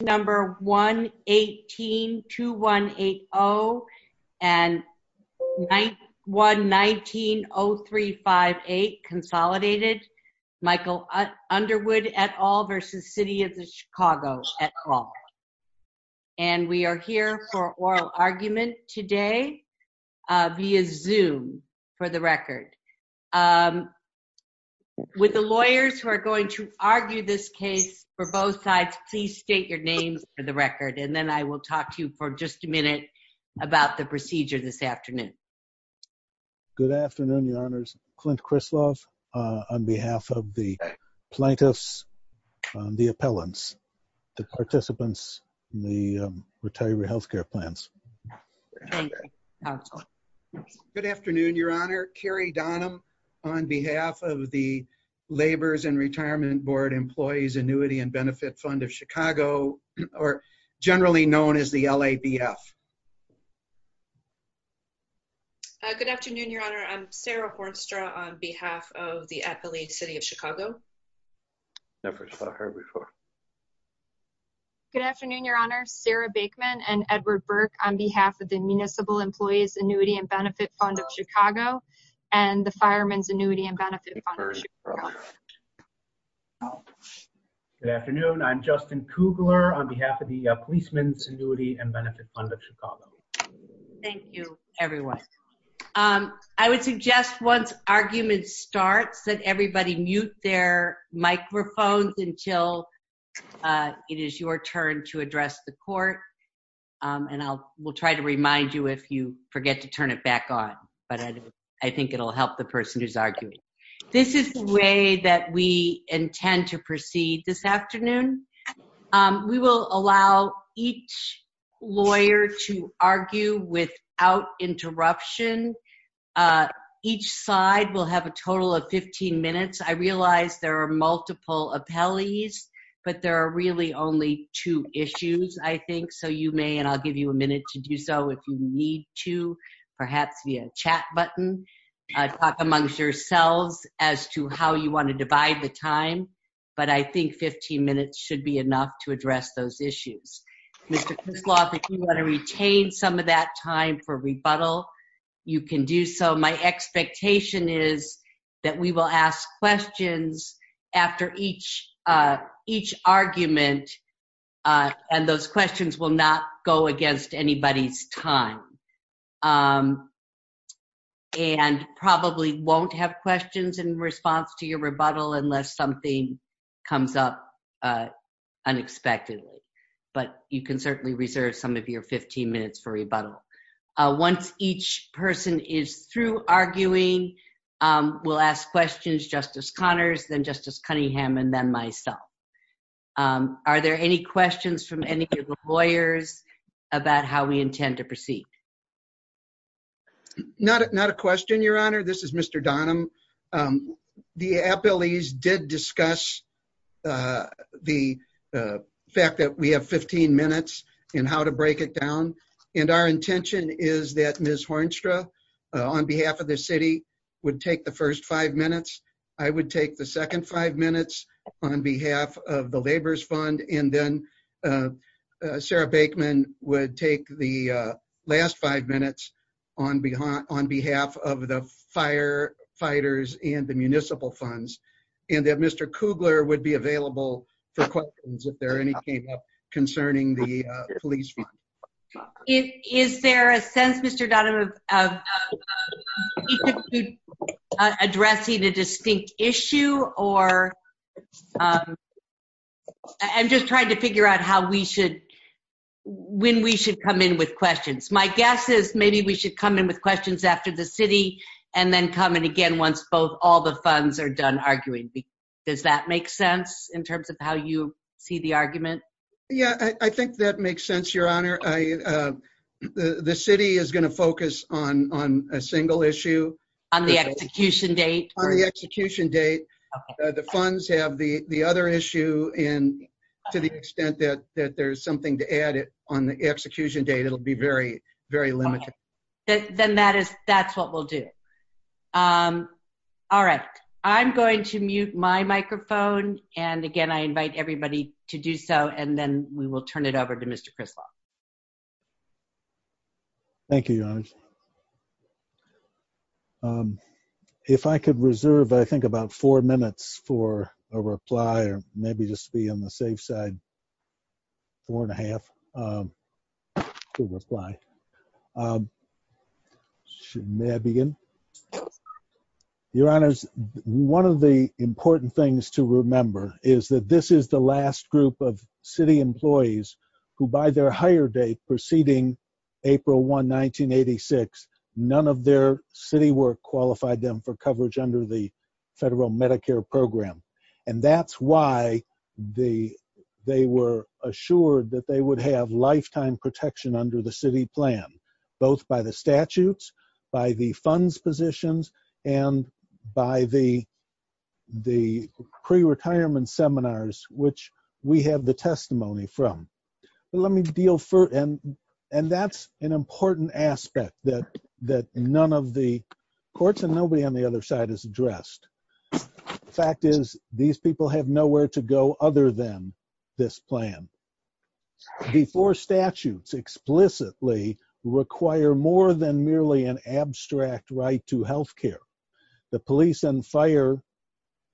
number 1-18-2180 and 9-1-19-0358 consolidated Michael Underwood et al. versus City of Chicago et al. and we are here for oral argument today via Zoom for the record. With the lawyers who argue this case for both sides, please state your name for the record and then I will talk to you for just a minute about the procedure this afternoon. Good afternoon, Your Honors. Clint Krislov on behalf of the plaintiffs, the appellants, the participants, the retiree health care plans. Good afternoon, Your Honor. Carrie Donham on behalf of the Labor's and Retirement Board Employees Annuity and Benefit Fund of Chicago or generally known as the LABF. Good afternoon, Your Honor. I'm Sarah Hornstra on behalf of the Athlete City of Chicago. Good afternoon, Your Honor. Sarah Baikman and Edward Burke on behalf of the Municipal Employees Annuity and Benefit Fund of Chicago and the Fireman's Annuity and Benefit Fund of Chicago. Good afternoon. I'm Justin Kugler on behalf of the Policeman's Annuity and Benefit Fund of Chicago. Thank you, everyone. I would suggest once argument starts that everybody mute their microphones until it is your turn to address the court and I will try to remind you if you forget to turn it back on, but I think it'll help the person who's arguing. This is the way that we intend to proceed this afternoon. We will allow each lawyer to argue without interruption. Each side will have a total of 15 minutes. I realize there are multiple appellees, but there are really only two issues, I think, so you may, and I'll give you a minute to do so if you need to, perhaps via chat button. Talk amongst yourselves as to how you want to divide the time, but I think 15 minutes should be enough to address those issues. Mr. Kusloff, if you want to retain some of that time for rebuttal, you can do so. My expectation is that we will ask questions after each argument and those questions will not go against anybody's time and probably won't have questions in response to your rebuttal unless something comes up unexpectedly, but you can certainly reserve some of your 15 minutes for rebuttal. Once each person is through arguing, we'll ask questions, Justice Connors, then Justice Cunningham, and then myself. Are there any questions from any of the lawyers about how we intend to proceed? Not a question, Your Honor. This is Mr. Donham. The appellees did discuss the fact that we have 15 minutes and how to break it down, and our intention is that Ms. Hornstra, on behalf of the city, would take the first five minutes. I would take the second five minutes on behalf of the Laborers Fund, and then Sarah Baikman would take the last five minutes on behalf of the Firefighters and the Municipal Funds, and then Mr. Kugler would be available for questions if there are any concerning the Police Fund. Is there a sense, Mr. Donham, of each of you addressing a distinct issue or a different issue? I'm just trying to figure out when we should come in with questions. My guess is maybe we should come in with questions after the city and then come in again once all the funds are done arguing. Does that make sense in terms of how you see the argument? Yeah, I think that makes sense, Your Honor. The city is going to focus on a single issue. On the execution date? On the execution date, the funds have the other issue, and to the extent that there's something to add on the execution date, it'll be very limited. Then that's what we'll do. All right. I'm going to mute my microphone, and again, I invite everybody to do so, and then we will turn over to Mr. Crispo. Thank you, Your Honor. If I could reserve, I think, about four minutes for a reply, or maybe just be on the safe side, four and a half. May I begin? Your Honor, one of the important things to remember is that this is the last group of employees who, by their hire date preceding April 1, 1986, none of their city work qualified them for coverage under the federal Medicare program. That's why they were assured that they would have lifetime protection under the city plan, both by the statutes, by the funds positions, and by the pre-retirement seminars, which we have the testimony from. That's an important aspect that none of the courts and nobody on the other side has addressed. The fact is, these people have nowhere to go other than this plan. The four statutes explicitly require more than merely an abstract right to health care. The police and fire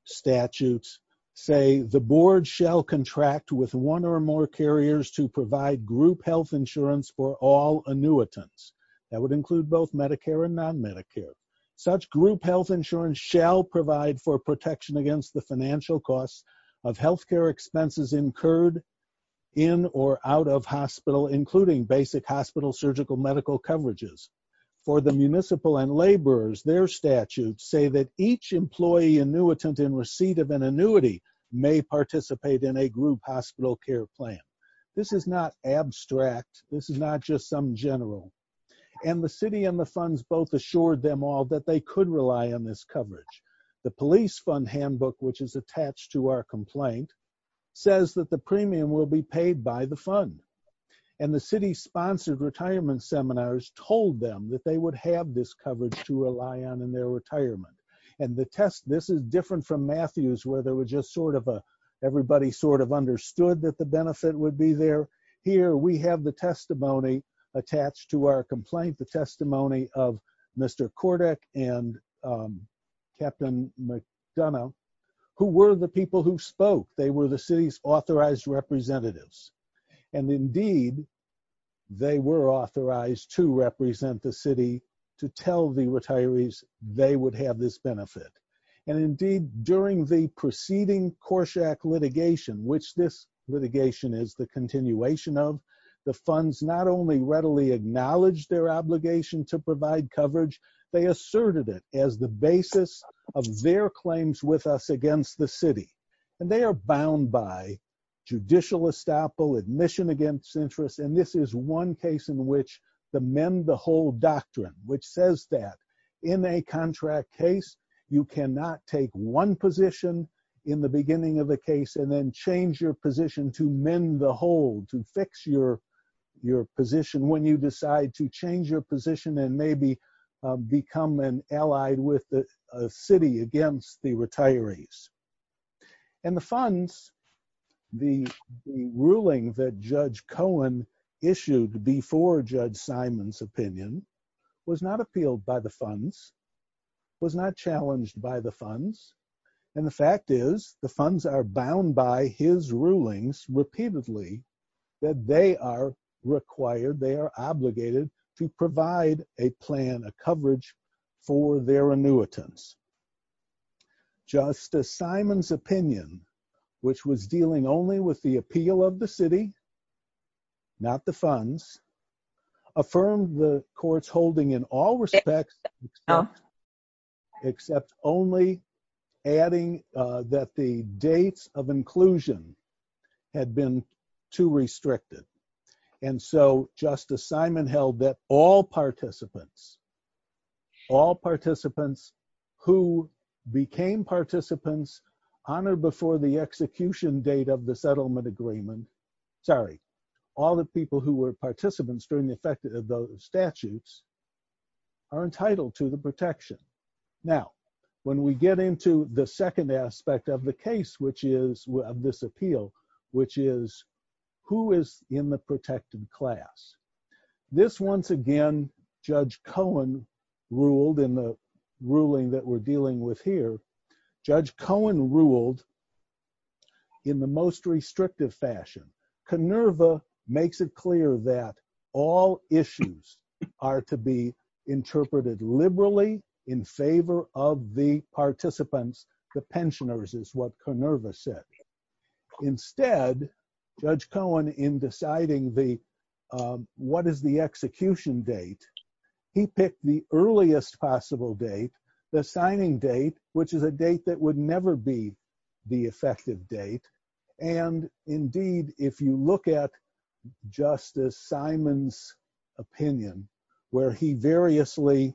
statutes say, the board shall contract with one or more carriers to provide group health insurance for all annuitants. That would include both Medicare and non-Medicare. Such group health insurance shall provide for protection against the financial costs of health care expenses incurred in or out of hospital, including basic hospital medical coverages. For the municipal and laborers, their statutes say that each employee annuitant in receipt of an annuity may participate in a group hospital care plan. This is not abstract. This is not just some general. The city and the funds both assured them all that they could rely on this coverage. The police fund handbook, which is attached to our complaint, says that the premium will be paid by the fund. The city sponsored retirement seminars told them that they would have this coverage to rely on in their retirement. This is different from Matthews, where everybody sort of understood that the benefit would be there. Here, we have the testimony attached to our complaint, the testimony of Mr. Cordick and Captain McDonough, who were the people who spoke. They were the city's authorized representatives. Indeed, they were authorized to represent the city to tell the retirees they would have this benefit. Indeed, during the preceding Corsak litigation, which this litigation is the continuation of, the funds not only readily acknowledged their obligation to provide coverage, they asserted it as the basis of their claims with us against the bound by judicial estoppel, admission against interest. This is one case in which the mend the whole doctrine, which says that in a contract case, you cannot take one position in the beginning of the case and then change your position to mend the whole, to fix your position when you decide to change your position and maybe become an allied with the city against the retirees. And the funds, the ruling that Judge Cohen issued before Judge Simon's opinion was not appealed by the funds, was not challenged by the funds. And the fact is, the funds are bound by his rulings repeatedly that they are required, they are obligated to provide a plan, a coverage for their annuitants. Justice Simon's opinion, which was dealing only with the appeal of the city, not the funds, affirmed the court's holding in all respects, except only adding that the dates of inclusion had been too restricted. And so Justice Simon held that all participants all participants who became participants on or before the execution date of the settlement agreement, sorry, all the people who were participants during the effect of those statutes are entitled to the protection. Now, when we get into the second aspect of the case, which is this appeal, which is who is in the protected class, this once again, Judge Cohen ruled in the ruling that we're dealing with here, Judge Cohen ruled in the most restrictive fashion. Koneva makes it clear that all issues are to be interpreted liberally in favor of the instead, Judge Cohen in deciding the what is the execution date, he picked the earliest possible date, the signing date, which is a date that would never be the effective date. And indeed, if you look at Justice Simon's opinion, where he variously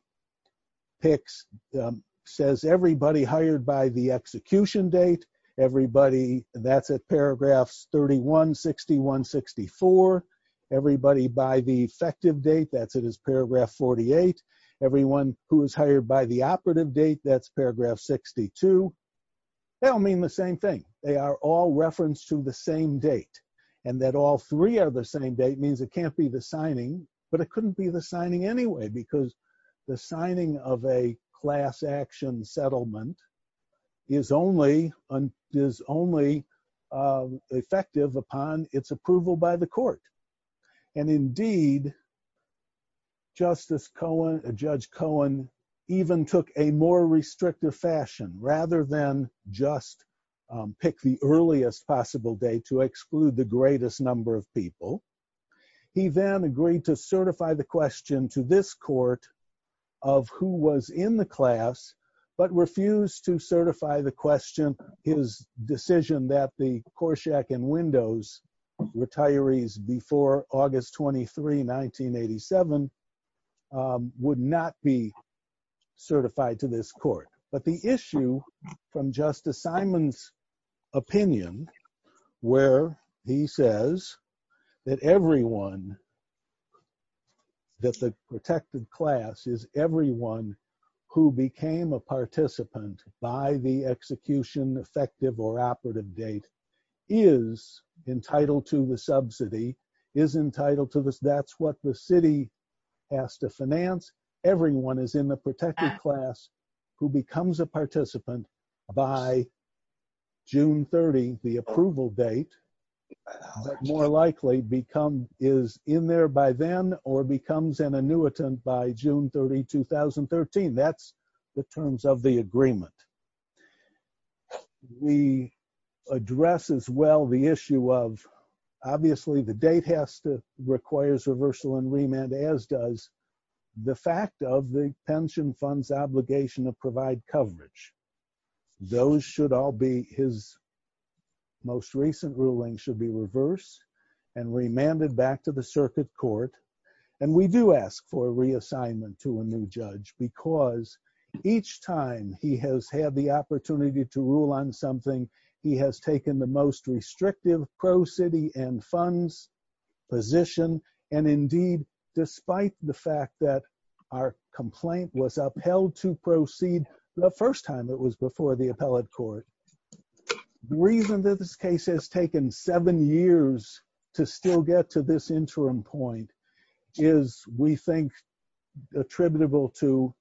picks, says everybody hired by the that's a paragraph 316164, everybody by the effective date, that's it is paragraph 48. Everyone who is hired by the operative date, that's paragraph 62. That'll mean the same thing, they are all referenced to the same date. And that all three are the same date means it can't be the signing, but it couldn't be the signing anyway, because the signing of a class action settlement is only effective upon its approval by the court. And indeed, Justice Cohen, Judge Cohen even took a more restrictive fashion rather than just pick the earliest possible day to exclude the greatest number of people. He then agreed to certify the question to this court of who was in the class, but refused to certify the question, his decision that the Korshak and Windows retirees before August 23, 1987 would not be certified to this court. But the issue from Justice Simon's opinion, where he says that everyone that the protected class is everyone who became a participant by the execution effective or operative date is entitled to the subsidy is entitled to this. That's what the city has to finance. Everyone is in the protected class who becomes a participant by June 30, the approval date, more likely become is in there by then or becomes an annuitant by June 30, 2013. That's the terms of the agreement. We address as well the issue of obviously the date has to requires reversal and remand as does the fact of the pension funds obligation to provide coverage. Those should all be his most recent ruling should be reversed and remanded back to the circuit court. And we do ask for reassignment to a new judge because each time he has had the opportunity to rule on something, he has taken the most restrictive pro city and funds position. And indeed, despite the fact that our complaint was upheld to proceed the first time it was before the appellate court. The reason that this case has taken seven years to still get to this interim point is we think attributable to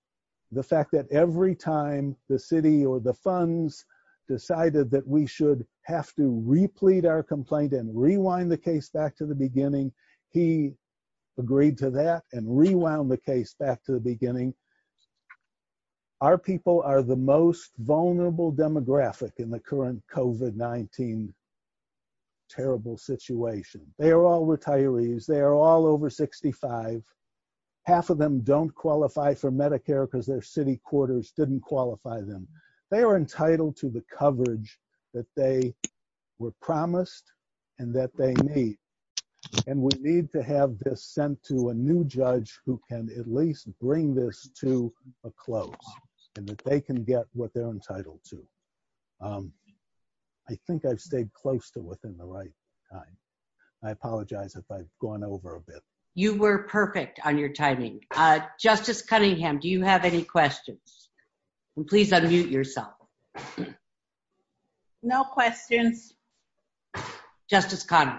the fact that every time the city or the funds decided that we should have to replete our complaint and rewind the case back to the beginning, he agreed to that and rewound the case back to the beginning. Our people are the most vulnerable demographic in the current COVID-19 terrible situation. They are all retirees. They are all over 65. Half of them don't qualify for Medicare because their city quarters didn't qualify them. They are entitled to the coverage that they were promised and that they need. And we need to have this sent to a new judge who can at least bring this to a close and that they can get what they're entitled to. I think I stayed close to within the right time. I apologize if I've gone over a bit. You were perfect on your timing. Justice Cunningham, do you have any questions? Please unmute yourself. No questions. Justice Connell.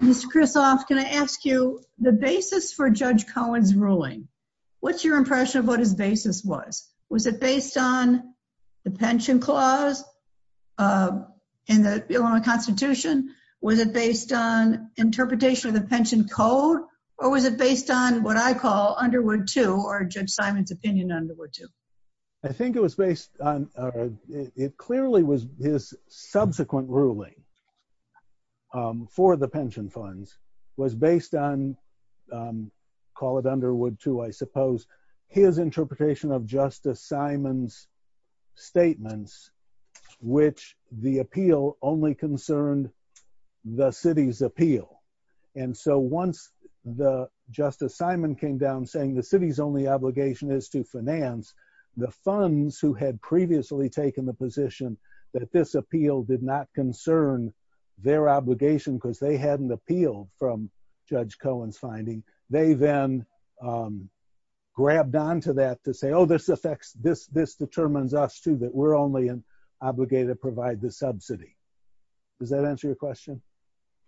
Mr. Kristof, can I ask you the basis for Judge Cohen's ruling? What's your impression of what his basis was? Was it based on the pension clause in the Constitution? Was it based on interpretation of the pension code? Or was it based on what I call Underwood II, or Judge Simon's opinion on Underwood II? I think it was based on, it clearly was his subsequent ruling for the pension funds, was based on, call it Underwood II, I suppose, his interpretation of Justice Simon's statements, which the appeal only concerned the city's appeal. And so once the Justice Simon came down saying the city's only obligation is to finance, the funds who had previously taken the position that this appeal did not concern their obligation because they hadn't appealed from Judge Cohen's finding, they then grabbed onto that to say, oh, this determines us too, that we're only obligated to provide the subsidy. Does that answer your question?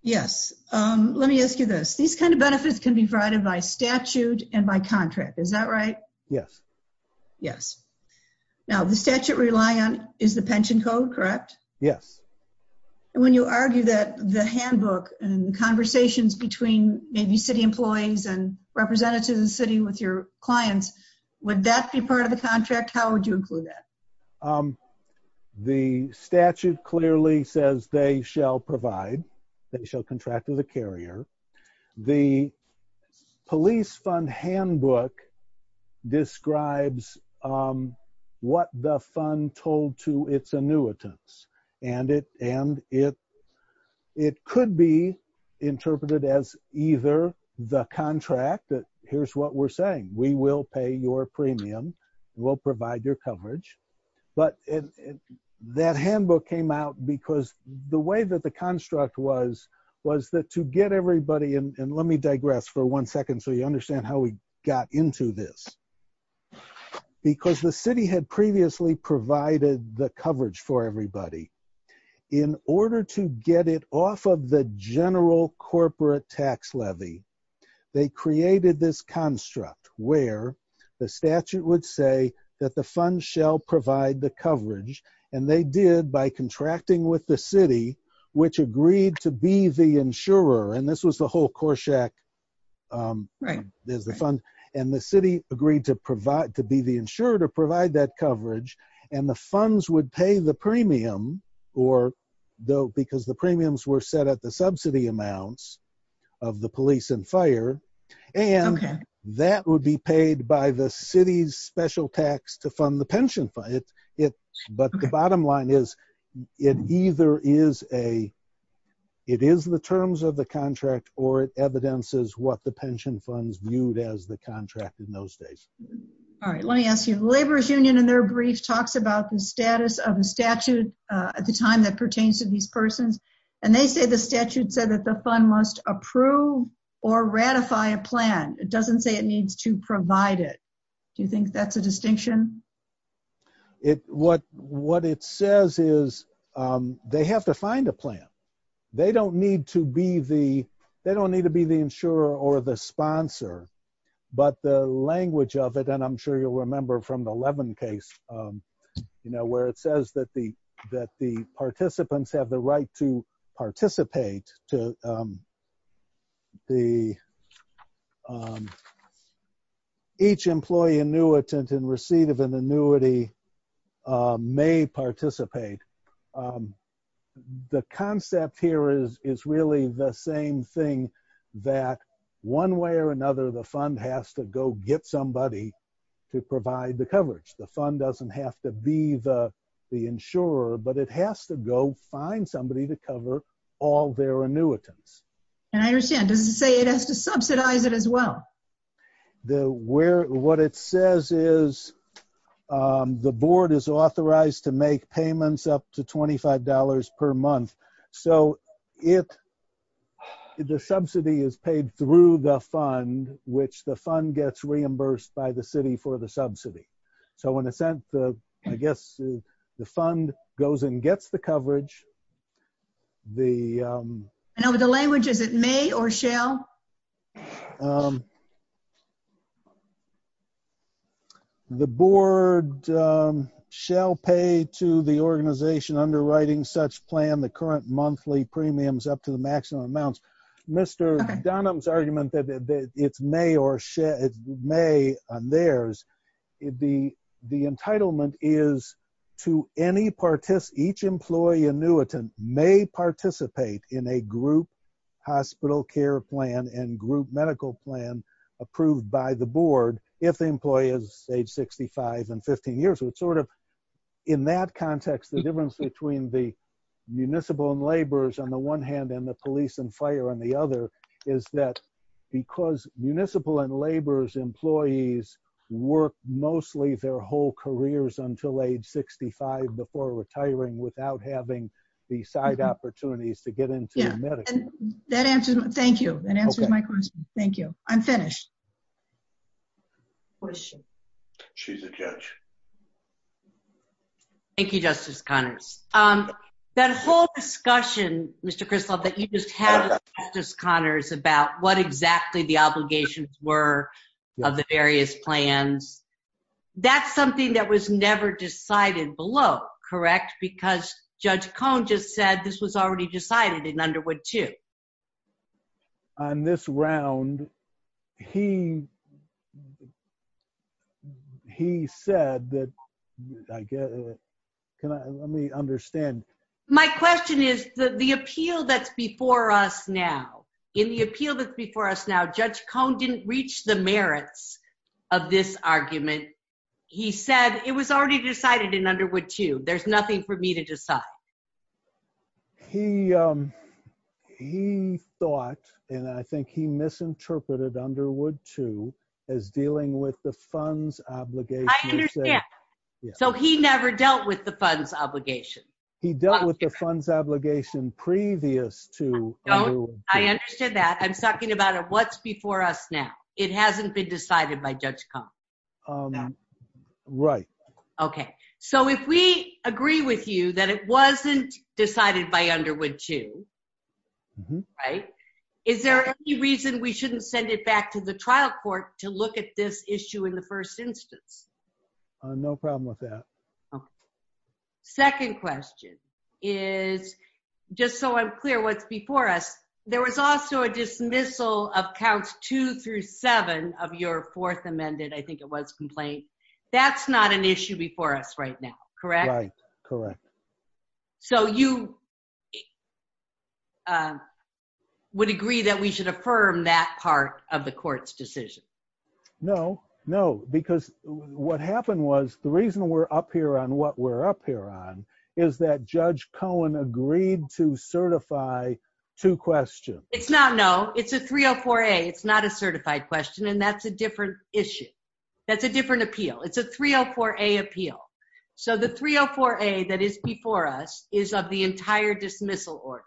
Yes. Let me ask you this. These kind of benefits can be provided by statute and by contract. Is that right? Yes. Yes. Now, the statute reliant is the pension code, correct? Yes. And when you argue that the handbook and conversations between maybe city employees and representatives of the city with your clients, would that be part of the contract? How would you include that? The statute clearly says they shall provide, they shall contract to the carrier. The police fund handbook describes what the fund told to its annuitants. And it could be interpreted as either the contract that here's what we're saying, we will pay your premium, we'll provide their coverage. But that handbook came out because the way that the construct was, was that to get everybody in, and let me digress for one second, so you understand how we got into this. Because the city had previously provided the coverage for everybody. In order to get it off of the general corporate tax levy, they created this where the statute would say that the fund shall provide the coverage. And they did by contracting with the city, which agreed to be the insurer. And this was the whole Corsak, there's the fund, and the city agreed to provide to be the insurer to provide that coverage. And the funds would pay the premium, or though because the premiums were set at the subsidy amounts of the police and fire, and that would be paid by the city's special tax to fund the pension fund. But the bottom line is, it either is a, it is the terms of the contract, or it evidences what the pension funds viewed as the contract in those days. All right, let me ask you, Laborers Union in their brief talks about the status of the statute at the time that pertains to these persons. And they say the statute said that the fund must approve or ratify a plan. It doesn't say it needs to provide it. Do you think that's a distinction? It what what it says is, they have to find a plan. They don't need to be the they don't need to be the insurer or the sponsor. But the language of it, and I'm sure you'll remember from the Levin case, you know, where it says that the that the participants have the right to participate to the each employee annuitant and receive an annuity may participate. The concept here is, is really the same thing, that one way or another, the fund has to go get somebody to provide the coverage, the fund doesn't have to be the, the insurer, but it has to go find somebody to cover all their annuitants. And I understand doesn't say it has to subsidize it as well. The where what it says is, the board is authorized to make payments up to $25 per month. So if the subsidy is paid through the fund, which the fund gets reimbursed by the city for the subsidy. So in a sense, I guess the fund goes and gets the coverage. The language is it may or shall? The board shall pay to the organization underwriting such plan, the current monthly premiums up to the maximum amounts. Mr. Dunham's argument that it may or shall, may theirs, it'd be the entitlement is to any participant, each employee annuitant may participate in a group hospital care plan and group medical plan approved by the board. If the employee is age 65 and 15 years old, sort of in that context, the difference between the municipal and laborers on the one hand and the police and fire on the other is that because municipal and laborers employees work mostly their whole careers until age 65 before retiring without having the side opportunities to get into medical. Thank you. Thank you. I'm finished. Thank you, Justice Connors. That whole discussion, Mr. Kristoff, that you just had with Justice Connors about what exactly the obligations were of the various plans. That's something that was never decided below, correct? Because Judge Cohn just said this was already decided in Underwood too. On this round, he said that, I guess, can I, let me understand. My question is that the appeal that's before us now, in the appeal that's before us now, Judge Cohn didn't reach the merits of this argument. He said it was already decided in Underwood too. There's nothing for me to decide. He thought, and I think he misinterpreted Underwood too, as dealing with the funds obligation. I understand. So he never dealt with the funds obligation. He dealt with the funds obligation previous to Underwood. I understand that. I'm confused. The appeal that's before us now, it hasn't been decided by Judge Cohn. Right. Okay. So if we agree with you that it wasn't decided by Underwood too, right? Is there any reason we shouldn't send it back to the trial court to look at this issue in the first instance? No problem with that. Second question is, just so I'm clear, what's before us, there was also a dismissal of counts two through seven of your fourth amended, I think it was, complaint. That's not an issue before us right now, correct? Correct. So you would agree that we should affirm that part of the court's decision? No, no. Because what happened was the reason we're up here on what we're up here on is that Judge Cohn agreed to certify two questions. It's not, no. It's a 304A. It's not a certified question, and that's a different issue. That's a different appeal. It's a 304A appeal. So the 304A that is before us is of the entire dismissal order,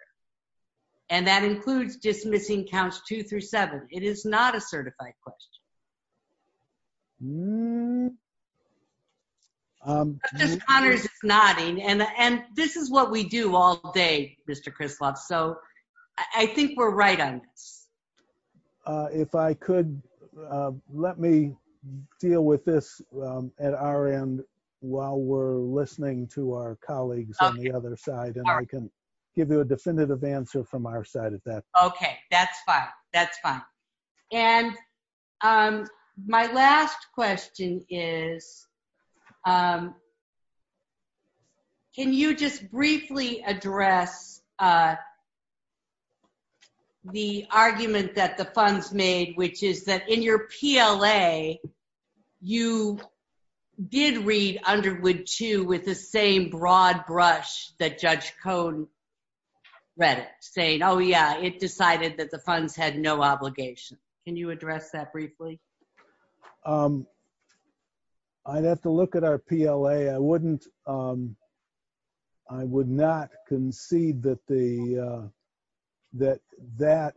and that includes dismissing counts two through seven. It is not a certified question. Mr. Connors is nodding, and this is what we do all day, Mr. Krisloff, so I think we're right on this. If I could, let me deal with this at our end while we're listening to our colleagues on the other side, and I can give you a definitive answer from our side of that. Okay, that's fine. That's fine. And my last question is, can you just briefly address the argument that the funds made, which is that in your PLA, you did read Underwood II with the same broad brush that Judge Cohn read it, saying, oh, yeah, it decided that the funds had no obligation. Can you address that briefly? I'd have to look at our PLA. I would not concede that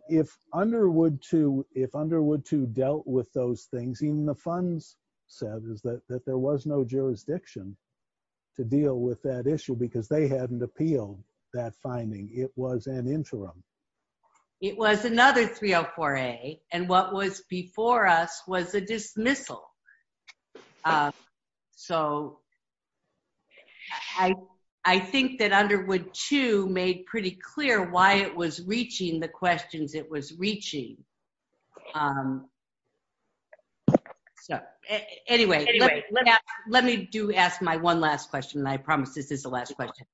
if Underwood II dealt with those things, even the funds said that there was no jurisdiction to deal with that issue because they hadn't appealed that finding. It was an interim. It was another 304A, and what was before us was a dismissal. So I think that Underwood II made pretty clear why it was reaching the questions it was reaching. Anyway, let me do ask my one last question, and I promise this is the last question.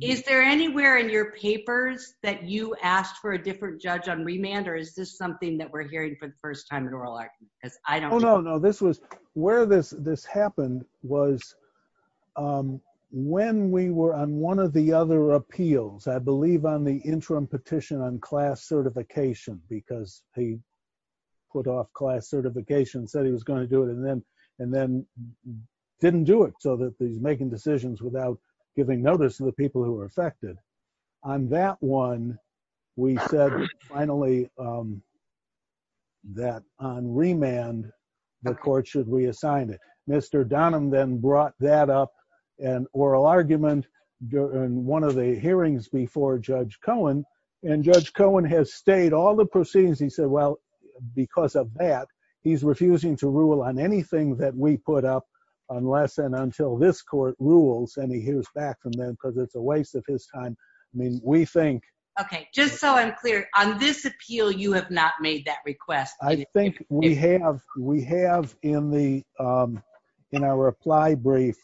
Is there anywhere in your papers that you asked for a different judge on remand, or is this something that we're hearing for the first time in oral argument? Oh, no, no. This was where this happened was when we were on one of the other appeals, I believe on the interim petition on class certification because he put off class certification, said he was going to do it, and then didn't do it so that he's making decisions without giving notice to the people who were affected. On that one, we said finally that on remand, the court should reassign it. Mr. Donham then brought that up in oral argument during one of the hearings before Judge Cohen, and Judge Cohen has stayed all the proceedings. He said, well, because of that, he's refusing to rule on anything that we put up unless and until this rules, and he hears back from them because it's a waste of his time. I mean, we think- Okay. Just so I'm clear, on this appeal, you have not made that request. I think we have. We have in our reply brief,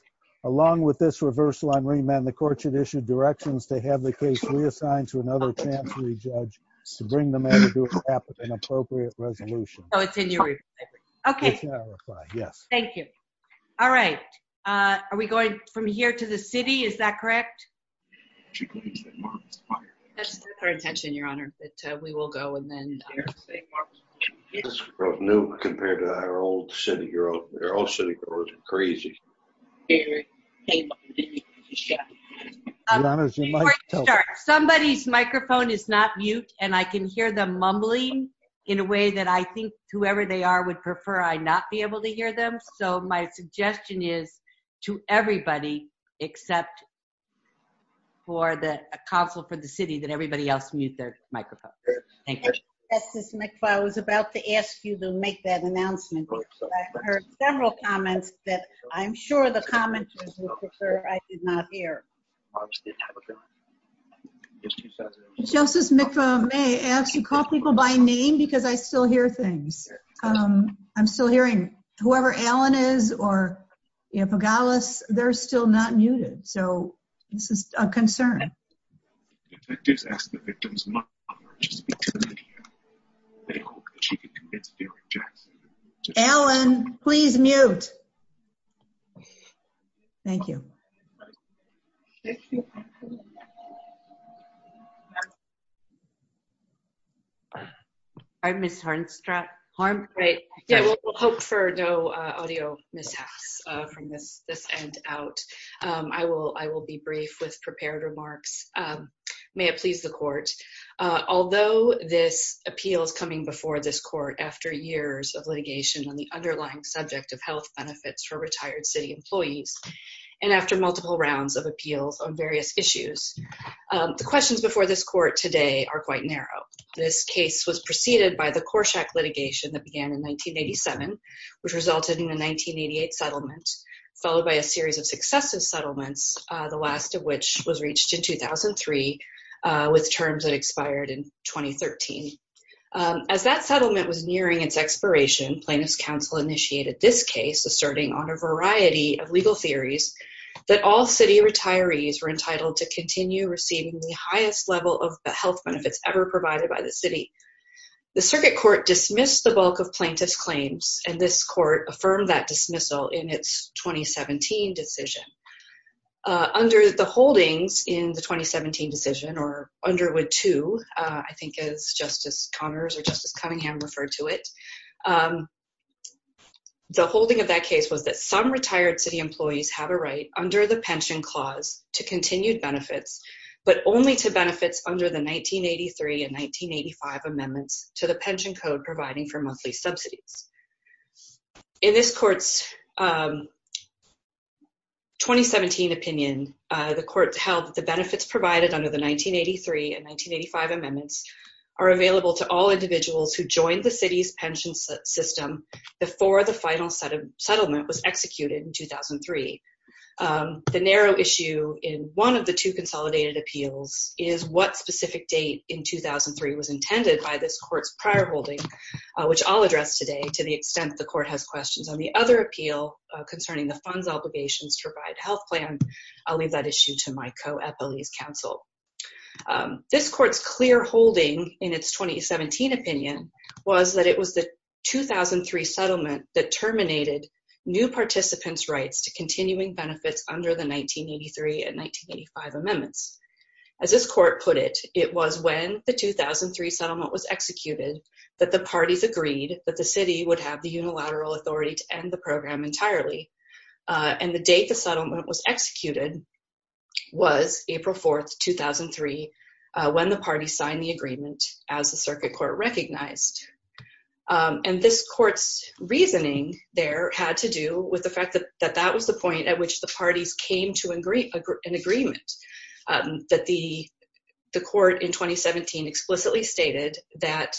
along with this reversal on remand, the court should issue directions to have the case reassigned to another chance re-judge to bring the matter to a cap with an appropriate resolution. Oh, it's in your reply brief. Okay. It's in our reply, yes. Thank you. All right. Are we going from here to the city? Is that correct? That's our intention, Your Honor. We will go and then- This is new compared to our old city. They're all city doors. Crazy. Somebody's microphone is not mute, and I can hear them mumbling in a way that I think whoever they are would prefer I not be able to hear them, so my suggestion is to everybody except for the council for the city that everybody else mute their microphone. Thank you. Justice McFarland, I was about to ask you to make that announcement, but I've heard several comments that I'm sure the commenters would prefer I did not hear. Justice McFarland may ask to call people by name because I still hear things. I'm still hearing whoever Allen is or Pagalis, they're still not muted, so this is a concern. Allen, please mute. Thank you. Thank you. All right, Ms. Hornstra. We'll hope for no audio mishaps from this end out. I will be brief with prepared remarks. May it please the court, although this appeal is coming before this court after years of litigation on the underlying subject of health benefits for retired city employees and after multiple rounds of appeals on various issues. The questions before this court today are quite narrow. This case was preceded by the Corsak litigation that began in 1987, which resulted in the 1988 settlement, followed by a series of successive settlements, the last of which was reached in 2003 with terms that expired in 2013. As that settlement was legal theories that all city retirees were entitled to continue receiving the highest level of the health benefits ever provided by the city. The circuit court dismissed the bulk of plaintiff's claims, and this court affirmed that dismissal in its 2017 decision. Under the holdings in the 2017 decision, or Underwood 2, I think as Justice Connors or Justice Cunningham referred to it, the holding of that case was that some retired city employees have a right under the pension clause to continue benefits, but only to benefits under the 1983 and 1985 amendments to the pension code providing for monthly subsidies. In this court's 2017 opinion, the court held the benefits provided under the 1983 and 1985 amendments are available to all individuals who join the city's system before the final settlement was executed in 2003. The narrow issue in one of the two consolidated appeals is what specific date in 2003 was intended by this court's prior holding, which I'll address today to the extent the court has questions on the other appeal concerning the funds obligations to provide health plans. I'll leave that issue to my counsel. This court's clear holding in its 2017 opinion was that it was the 2003 settlement that terminated new participants' rights to continuing benefits under the 1983 and 1985 amendments. As this court put it, it was when the 2003 settlement was executed that the parties agreed that the city would have the unilateral authority to end the program entirely, and the date the settlement was executed was April 4, 2003, when the party signed the agreement as the circuit court recognized. This court's reasoning there had to do with the fact that that was the point at which the parties came to an agreement. The court in 2017 explicitly stated that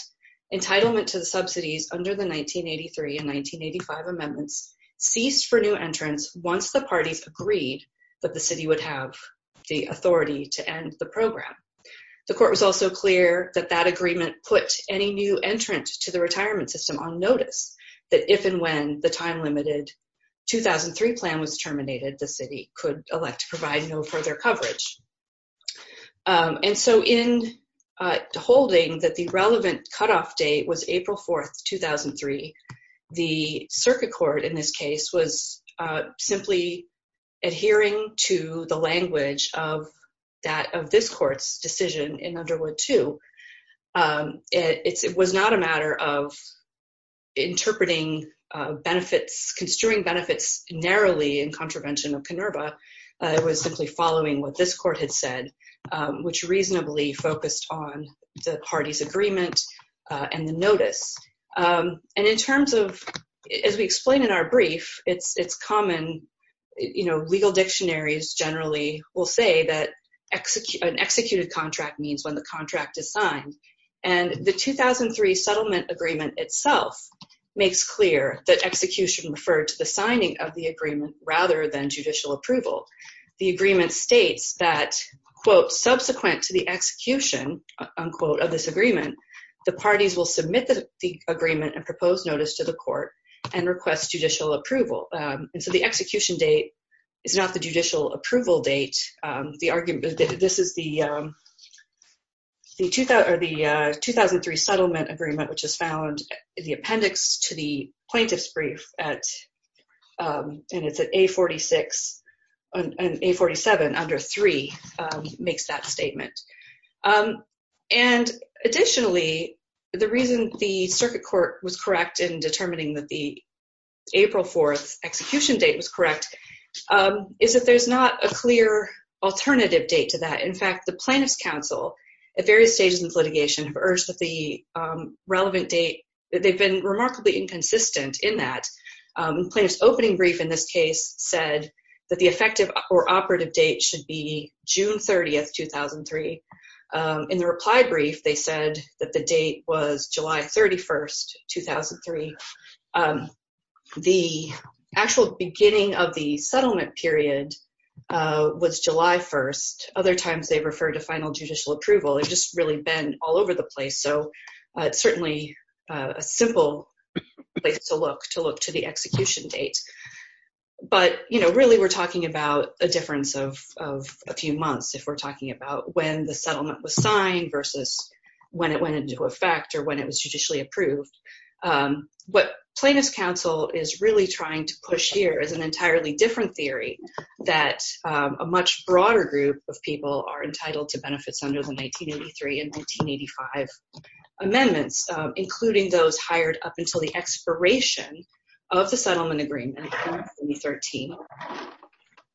entitlement to the subsidies under the 1983 and 1985 amendments ceased for new entrants once the parties agreed that the city would have the authority to end the program. The court was also clear that that agreement put any new entrants to the retirement system on notice, that if and when the time-limited 2003 plan was terminated, the city could elect to provide no coverage. In holding that the relevant cutoff date was April 4, 2003, the circuit court in this case was simply adhering to the language of this court's decision in Underwood 2. It was not a matter of interpreting benefits, construing benefits narrowly in contravention of KINURBA. It was simply following what this court had said, which reasonably focused on the party's agreement and the notice. And in terms of, as we explain in our brief, it's common, you know, legal dictionaries generally will say that an executed contract means when the contract is signed, and the 2003 settlement agreement itself makes clear that execution referred to the signing of the agreement rather than judicial approval. The agreement states that, quote, subsequent to the execution, unquote, of this agreement, the parties will submit the agreement and proposed notice to the court and request judicial approval. And so the execution date is not the judicial approval date. The argument is that this is the 2003 settlement agreement, which is found in the appendix to the plaintiff's brief at, and it's at A46, and A47 under 3 makes that statement. And additionally, the reason the circuit court was correct in determining that the April 4 execution date was correct is that there's not a clear alternative date to that. In fact, the plaintiff's counsel at various stages of litigation have urged that the relevant date, they've been remarkably inconsistent in that. Plaintiff's opening brief in this case said that the effective or operative date should be June 30, 2003. In the reply brief, they said that the date was July 31, 2003. The actual beginning of the settlement period was July 1. Other times, they refer to final judicial approval. It's just really been all over the place. So it's certainly a simple place to look, to look to the execution date. But, you know, really we're talking about a difference of a few months if we're talking about when the settlement was signed versus when it went into effect or when it was judicially approved. What plaintiff's counsel is really trying to push here is an entirely different theory that a much broader group of people are entitled to benefits under the 1983 and 1985 amendments, including those hired up until the expiration of the settlement agreement in 2013,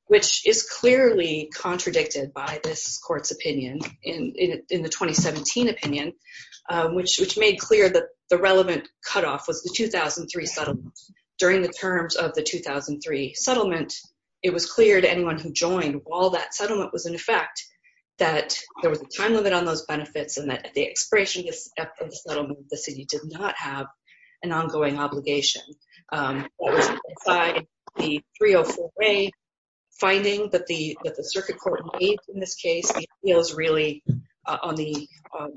which is clearly contradicted by this court's opinion in the 2017 opinion, which made clear that the relevant cutoff was the 2003 settlement. During the terms of the 2003 settlement, it was clear to anyone who joined while that settlement was in effect that there was a time limit on those benefits and that at the expiration of the settlement, the city did not have an ongoing obligation. By the 304A finding that the circuit court in this case feels really on the,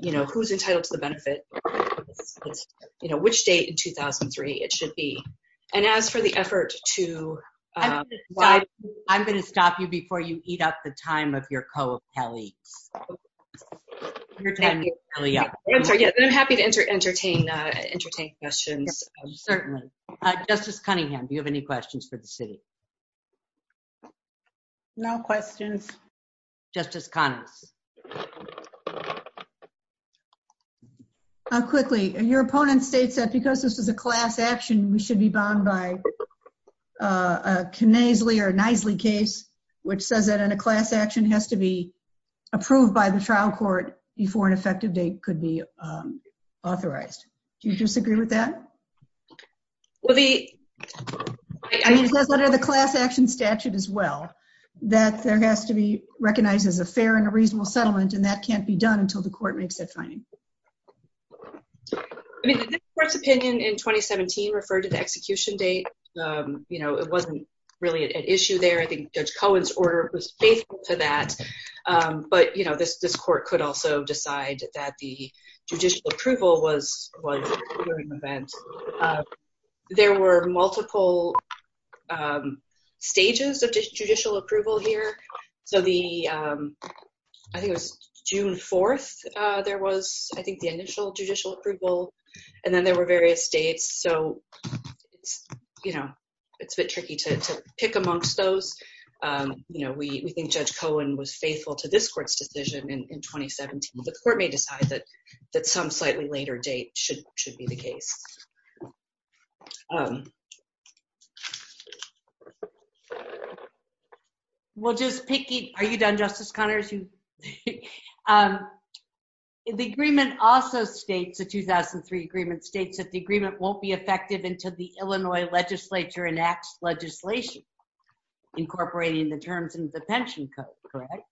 you know, who's entitled to the benefit, you know, which date in 2003 it should be. And as for the effort to... I'm going to stop you before you eat up the time of your co-appellee. I'm happy to entertain questions. Certainly. Justice Cunningham, do you have any questions for the city? No questions. Justice Conner. How quickly, and your opponent states that because this is a class action, we should be bound by a Knaisley or Knaisley case, which says that in a class action has to be approved by the trial court before an effective date could be authorized. Do you disagree with that? Well, the... I mean, what are the class action statute as well? That there has to be recognized as a fair and a reasonable settlement, and that can't be done until the court makes that finding. I mean, the Supreme Court's opinion in 2017 referred to the execution date. You know, it wasn't really an issue there. I think Judge Cohen's order was faithful to that. But, you know, this court could also decide that the judicial approval was during the event. There were multiple stages of judicial approval here. So the... I think it was June 4th there was, I think, the initial judicial approval. And then there were various dates. So, you know, it's a bit tricky to pick amongst those. You know, we think Judge Cohen was faithful to this court's decision in 2017. But the court may decide that some slightly later date should be the case. We'll just pick... Are you done, Justice Connors? The agreement also states, the 2003 agreement states that the agreement won't be effective until the Illinois legislature enacts legislation incorporating the terms of the pension code, correct?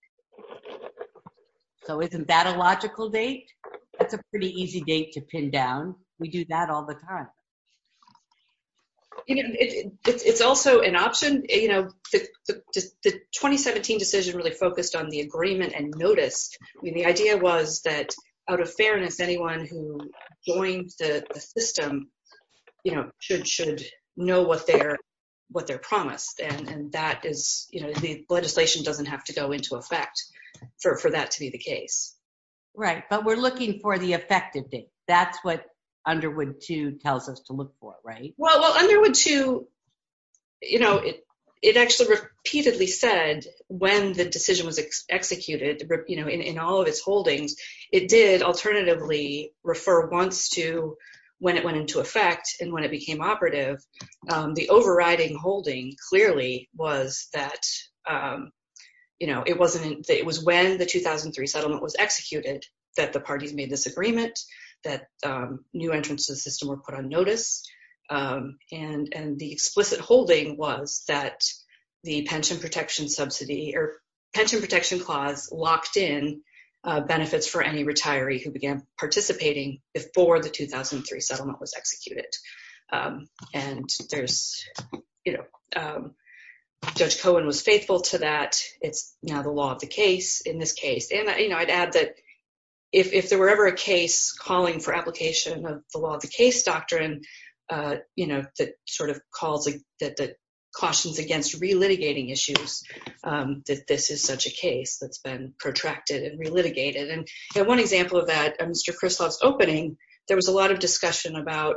So isn't that a logical date? That's a pretty easy date to pin down. We do that all the time. It's also an option, you know, the 2017 decision really focused on the agreement and noticed. The idea was that out of fairness, anyone who joins the system, you know, should know what they're promised. And that is, you know, the legislation doesn't have to go into effect for that to be the case. Right. But we're looking for the effective date. That's what Underwood 2 tells us to look for, right? Well, Underwood 2, you know, it actually repeatedly said when the decision was executed, you know, in all of its holdings, it did alternatively refer once to when it went into effect and when it became operative. The overriding holding clearly was that, you know, it wasn't... It was when the 2003 settlement was executed that the parties made this agreement that new entrants to the system were put on notice. And the explicit holding was that the pension protection subsidy or pension protection clause locked in benefits for any retiree who began participating before the 2003 settlement was executed. And there's, you know, Judge Cohen was faithful to that. It's, you know, the law of the case in this case. And, you know, I'd add that if there were ever a case calling for application of the law of the case doctrine, you know, that sort of called the... That cautions against relitigating issues, that this is such a case that's been protracted and relitigated. And one example of that, in Mr. Crislaw's opening, there was a lot of discussion about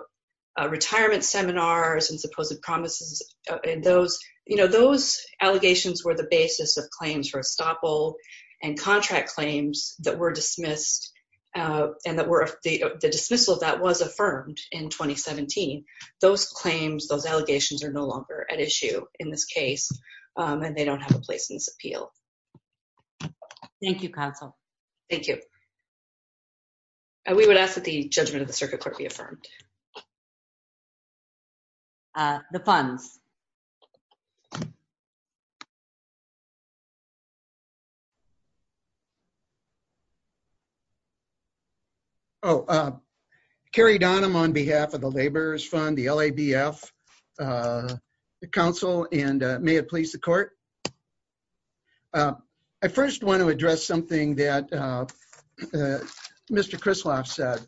retirement seminars and supposed promises. And those, you know, those allegations were the basis of claims for estoppel and contract claims that were dismissed and that were... The dismissal of that was affirmed in 2017. Those claims, those allegations are no longer at issue in this case, and they don't have a place in this appeal. Thank you, Council. Thank you. We would ask that the judgment of the circuit court be affirmed. The funds. Oh, Kerry Donham on behalf of the Laborers Fund, the LABF, the council, and may it please the court. I first want to address something that Mr. Crislaw said.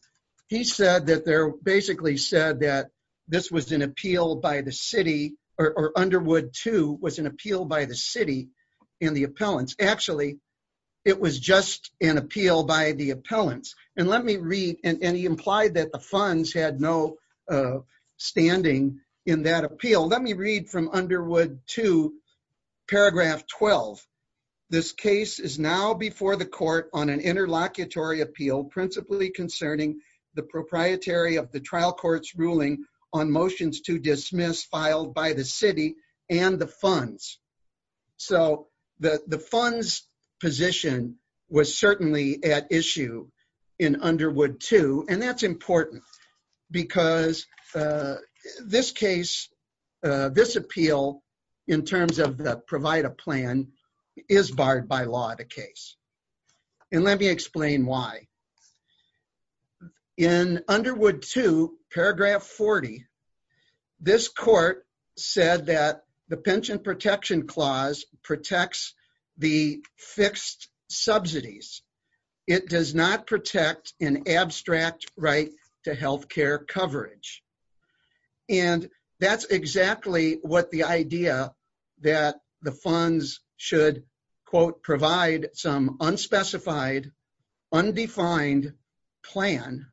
He said that they're basically said that this was an appeal by the city or Underwood II was an appeal by the city in the appellants. Actually, it was just an appeal by the appellants. And let me read, and he implied that the funds had no standing in that appeal. Let me read from Underwood II, paragraph 12. This case is now before the court on an interlocutory appeal principally concerning the proprietary of the trial court's ruling on motions to dismiss filed by the city and the funds. So the funds position was certainly at issue in Underwood II, and that's important because this case, this appeal in terms of the provider plan is barred by law the case. And let me explain why. In Underwood II, paragraph 40, this court said that the pension protection clause protects the fixed subsidies. It does not protect an abstract right to health care coverage. And that's exactly what the idea that the funds should, quote, provide some unspecified, undefined plan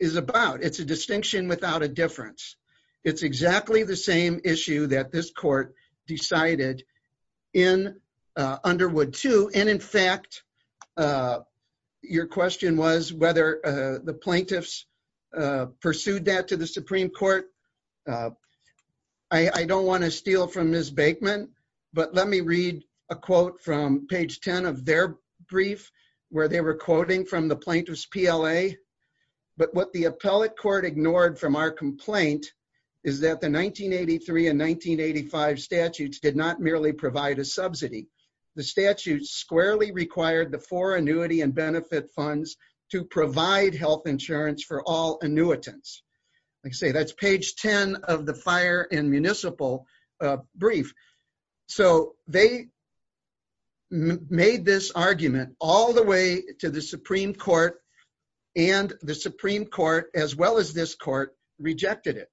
is about. It's a distinction without a difference. It's exactly the same issue that this court decided in Underwood II. And in fact, your question was whether the plaintiffs pursued that to the Supreme Court. I don't want to steal from Ms. Bakeman, but let me read a quote from page 10 of their brief where they were quoting from the plaintiff's PLA. But what the appellate court ignored from our complaint is that the 1983 and 1985 statutes did not merely provide a subsidy. The statute squarely required the four annuity and benefit funds to provide health insurance for all annuitants. Like I say, that's page 10 of the complaint. The plaintiffs made this argument all the way to the Supreme Court, and the Supreme Court, as well as this court, rejected it.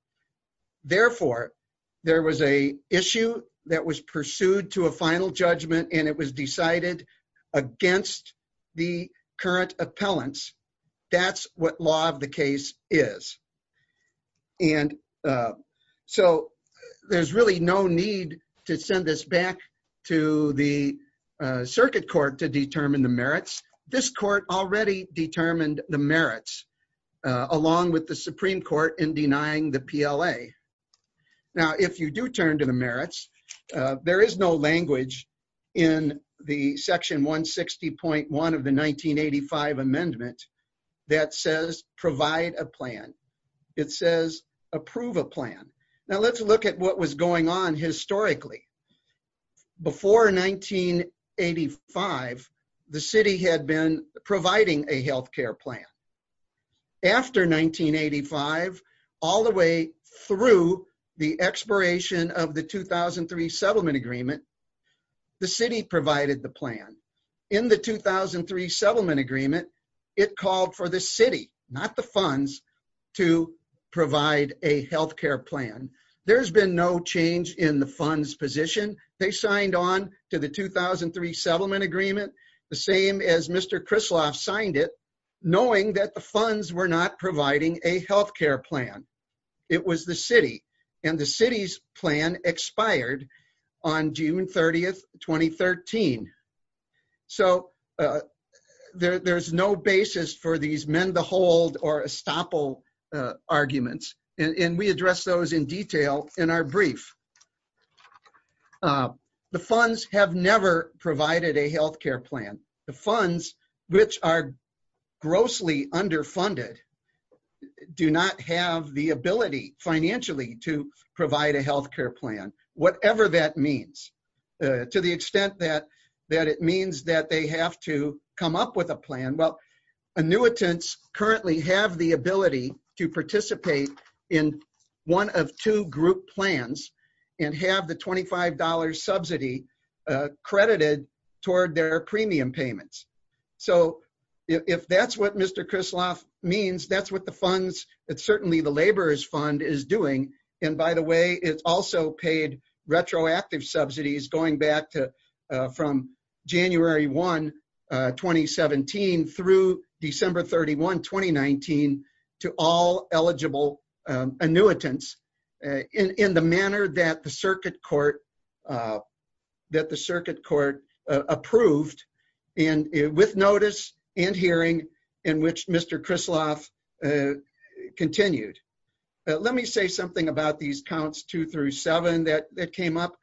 Therefore, there was an issue that was pursued to a final judgment, and it was decided against the current appellants. That's what law of the the circuit court to determine the merits. This court already determined the merits, along with the Supreme Court in denying the PLA. Now, if you do turn to the merits, there is no language in the section 160.1 of the 1985 amendment that says provide a plan. It says approve a plan. Now, let's look at what was going on historically. Before 1985, the city had been providing a health care plan. After 1985, all the way through the expiration of the 2003 settlement agreement, the city provided the plan. In the 2003 settlement agreement, it called for the city, not the funds, to provide a health care plan. There's been no change in the fund's position. They signed on to the 2003 settlement agreement, the same as Mr. Krisloff signed it, knowing that the funds were not providing a health care plan. It was the city, and the city's plan expired on June 30, 2013. So, there's no basis for these men-to-hold or estoppel arguments, and we address those in detail in our brief. The funds have never provided a health care plan. The funds, which are grossly underfunded, do not have the ability, financially, to provide a health care plan, whatever that means. To the extent that it means that they have to come up with a plan, well, annuitants currently have the ability to participate in one of two group plans and have the $25 subsidy credited toward their premium payments. So, if that's what Mr. Krisloff means, that's what the funds, certainly the laborers fund, is doing. And by the way, it also paid retroactive subsidies, going back from January 1, 2017, through December 31, 2019, to all eligible annuitants, in the manner that the circuit court approved, with notice and hearing, in which Mr. Krisloff continued. Let me say something about these counts two through seven that came up.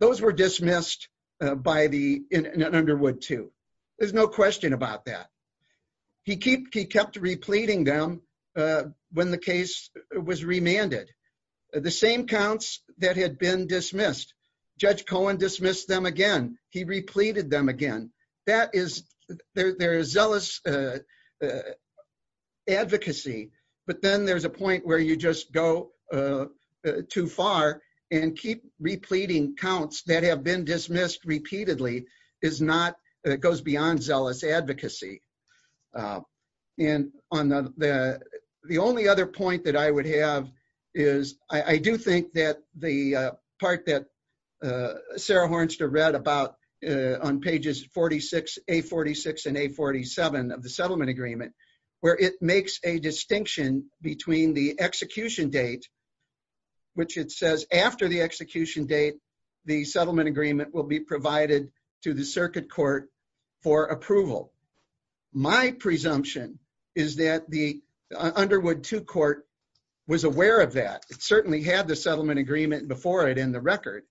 Those were dismissed in Underwood too. There's no question about that. He kept repleting them when the case was remanded. The same counts that had been dismissed, Judge Cohen dismissed them again. He repleted them again. There is zealous advocacy, but then there's a point where you just go too far and keep repleting counts that have been dismissed repeatedly. It goes beyond zealous advocacy. The only other point that I would have is, I do think that the part that Sarah Hornster read about on pages 46, A46 and A47 of the settlement agreement, where it makes a distinction between the execution date, which it says after the execution date, the settlement agreement will be provided to the circuit court for approval. My presumption is that the Underwood 2 court was aware of that. It certainly had the settlement agreement before it in the record.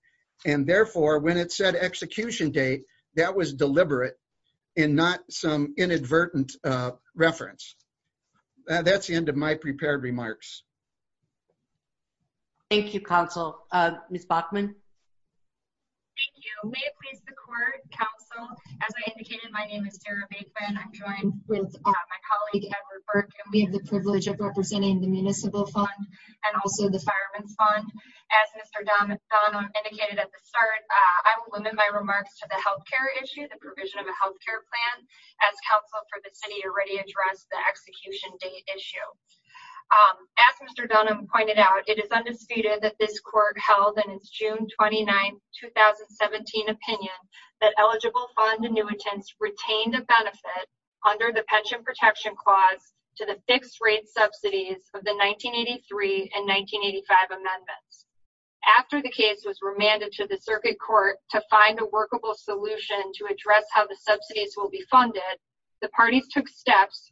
Therefore, when it said execution date, that was deliberate and not some inadvertent reference. That's the end of my prepared remarks. Thank you, counsel. Ms. Bachman? Thank you. May it please the court, counsel, as I indicated, my name is Sarah Bachman. I'm joined with my colleague, Edward Burke. It gives me the privilege of representing the municipal fund and also the fireman's fund. As Mr. Don McDonough indicated at the start, I will limit my remarks to the healthcare issue, the provision of a healthcare plan, as counsel for the city already addressed the execution date issue. As Mr. Don McDonough pointed out, it is undisputed that this court held in its June 29, 2017 opinion that eligible fund annuitants retain the benefit under the pension protection clause to the fixed rate subsidies of the 1983 and 1985 amendments. After the case was remanded to the circuit court to find a workable solution to address how the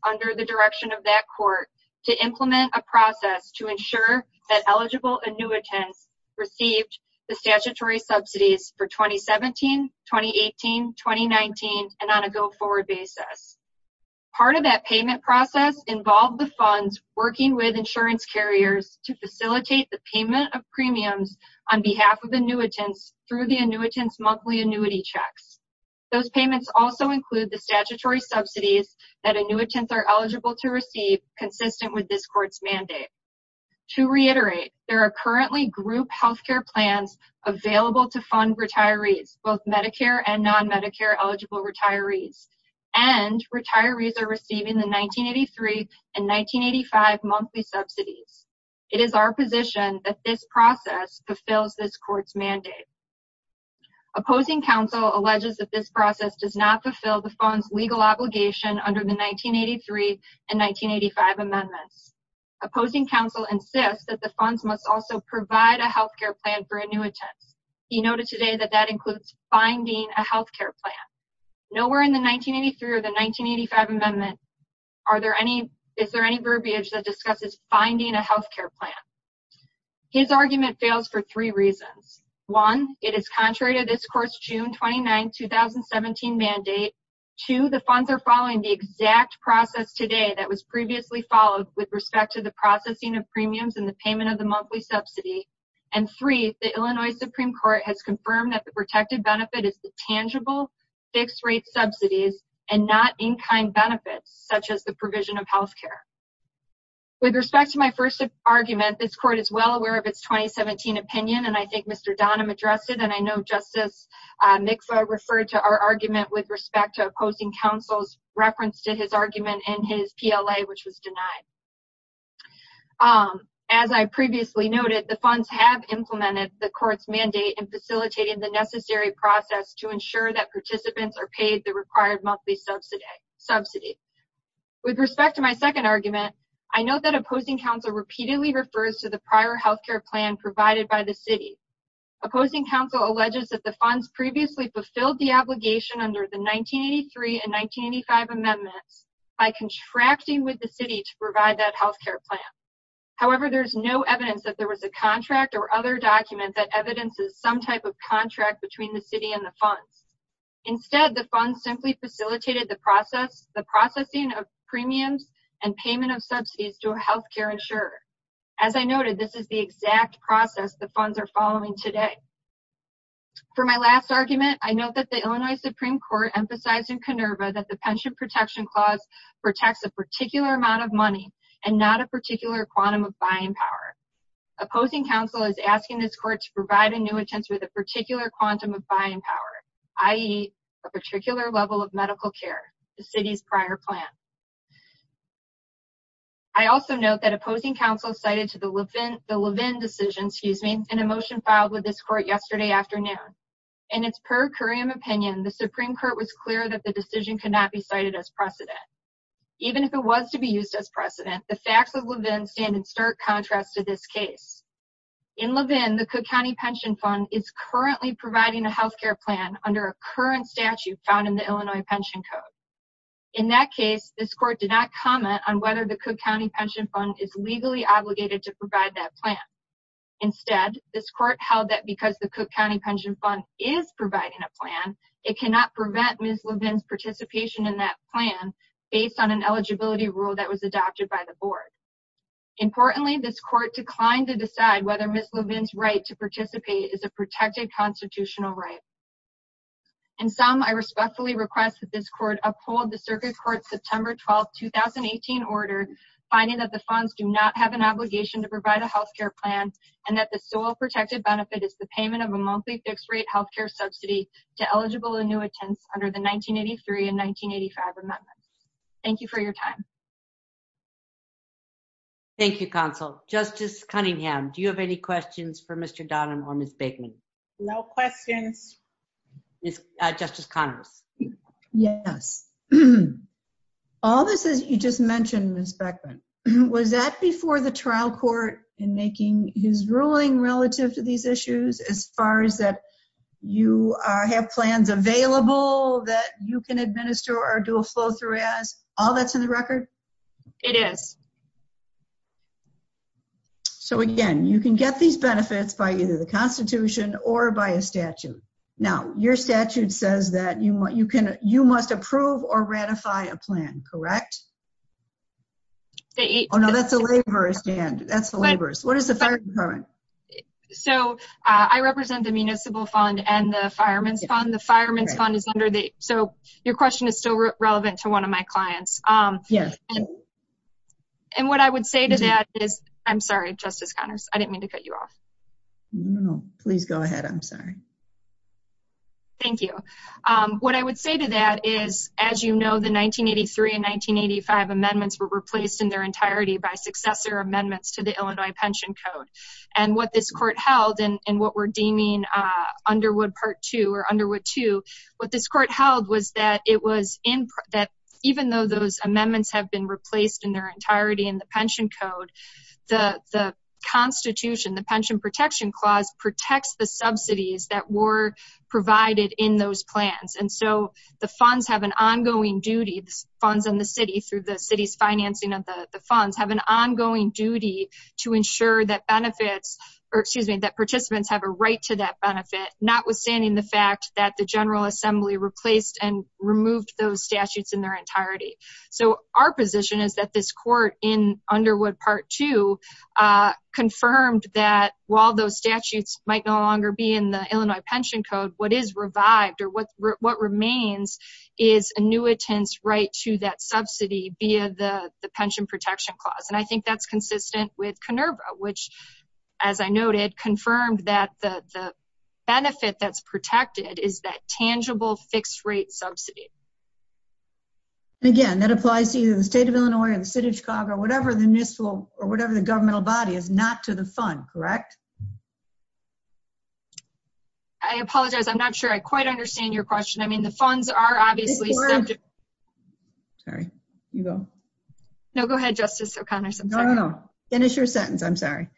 under the direction of that court to implement a process to ensure that eligible annuitants received the statutory subsidies for 2017, 2018, 2019, and on a go-forward basis. Part of that payment process involved the funds working with insurance carriers to facilitate the payment of premiums on behalf of annuitants through the annuitants monthly annuity checks. Those payments also include the statutory subsidies that annuitants are eligible to receive consistent with this court's mandate. To reiterate, there are currently group healthcare plans available to fund retirees, both Medicare and non-Medicare eligible retirees, and retirees are receiving the 1983 and 1985 monthly subsidies. It is our position that this process fulfills this process does not fulfill the fund's legal obligation under the 1983 and 1985 amendments. Opposing counsel insists that the funds must also provide a healthcare plan for annuitants. He noted today that that includes finding a healthcare plan. Nowhere in the 1983 or the 1985 amendments is there any verbiage that describes finding a healthcare plan. His argument fails for three reasons. One, it is contrary to this court's June 29, 2017 mandate. Two, the funds are following the exact process today that was previously followed with respect to the processing of premiums and the payment of the monthly subsidy. And three, the Illinois Supreme Court has confirmed that the protected benefit is the tangible fixed-rate subsidies and not in-kind benefits such as the provision of healthcare. With respect to my first argument, this court is well aware of its 2017 opinion, and I think Mr. Donham addressed it, and I know Justice Miksa referred to our argument with respect to opposing counsel's reference to his argument in his PLA, which was denied. As I previously noted, the funds have implemented the court's mandate in facilitating the necessary process to ensure that participants are paid the required monthly subsidy. With respect to my second argument, I note that opposing counsel repeatedly refers to the prior healthcare plan provided by the city. Opposing counsel alleges that the funds previously fulfilled the obligation under the 1983 and 1985 amendments by contracting with the city to provide that healthcare plan. However, there's no evidence that there was a contract or other document that evidences some type of contract between the city and the funds. Instead, the funds simply facilitated the processing of premiums and payment of subsidies to a healthcare insurer. As I noted, this is the exact process the funds are following today. For my last argument, I note that the Illinois Supreme Court emphasized in KONERVA that the Pension Protection Clause protects a particular amount of money and not a particular quantum of buying power. Opposing counsel is asking this court to provide annuitants with a particular quantum of buying power, i.e., a particular level of medical care, the city's prior plan. I also note that opposing counsel cited the Levin decision in a motion filed with this court yesterday afternoon. In its per curiam opinion, the Supreme Court was clear that the decision could not be cited as precedent. Even if it was to be used as precedent, the facts of Levin stand stark contrast to this case. In Levin, the Cook County Pension Fund is currently providing a healthcare plan under a current statute found in the Illinois Pension Code. In that case, this court did not comment on whether the Cook County Pension Fund is legally obligated to provide that plan. Instead, this court held that because the Cook County Pension Fund is providing a plan, it cannot prevent Ms. Levin's participation in that plan based on an eligibility rule that was passed in the past. Importantly, this court declined to decide whether Ms. Levin's right to participate is a protected constitutional right. In sum, I respectfully request that this court uphold the Circuit Court's September 12, 2018 order, finding that the funds do not have an obligation to provide a healthcare plan and that the sole protected benefit is the payment of a monthly fixed-rate healthcare subsidy to eligible annuitants under the 1983 and 1985 amendments. Thank you for your time. Thank you, Counsel. Justice Cunningham, do you have any questions for Mr. Donahan or Ms. Beckman? No questions. Justice Connell? Yes. All this that you just mentioned, Ms. Beckman, was that before the trial court in making his ruling relative to these issues, as far as that you have plans available that you can administer or do a full-through ad? All that's in the record? It is. So, again, you can get these benefits by either the Constitution or by a statute. Now, your statute says that you must approve or ratify a plan, correct? Oh, no, that's the laborers, Jan. That's the laborers. What is the third part? So, I represent the Municipal Fund and the Fireman's Fund. The Fireman's Fund is under the... So, your question is still relevant to one of my clients. And what I would say to that is... I'm sorry, Justice Conners. I didn't mean to cut you off. No, please go ahead. I'm sorry. Thank you. What I would say to that is, as you know, the 1983 and 1985 amendments were replaced in their entirety by successor amendments to the Illinois Pension Code. And what this court held, and what we're deeming Underwood Part 2 or Underwood 2, what this court held was that even though those amendments have been replaced in their entirety in the Pension Code, the Constitution, the Pension Protection Clause, protects the subsidies that were provided in those plans. And so, the funds have an ongoing duty, the funds in the city, through the city's financing of the funds, have an ongoing duty to ensure that benefits... that participants have a right to that benefit, notwithstanding the fact that the General Assembly replaced and removed those statutes in their entirety. So, our position is that this court, in Underwood Part 2, confirmed that while those statutes might no longer be in the Illinois Pension Code, what is revived, or what remains, is annuitants' right to that subsidy via the Pension Protection Clause. And I think that's consistent with Conerva, which, as I noted, confirmed that the benefit that's protected is that tangible fixed-rate subsidy. Again, that applies to the state of Illinois, the state of Chicago, whatever the initial or whatever the governmental body is, not to the fund, correct? I apologize, I'm not sure I quite understand your question. I mean, the funds are obviously... Sorry, you go. No, go ahead, Justice O'Connor. No, no, no. Finish your sentence, I'm sorry.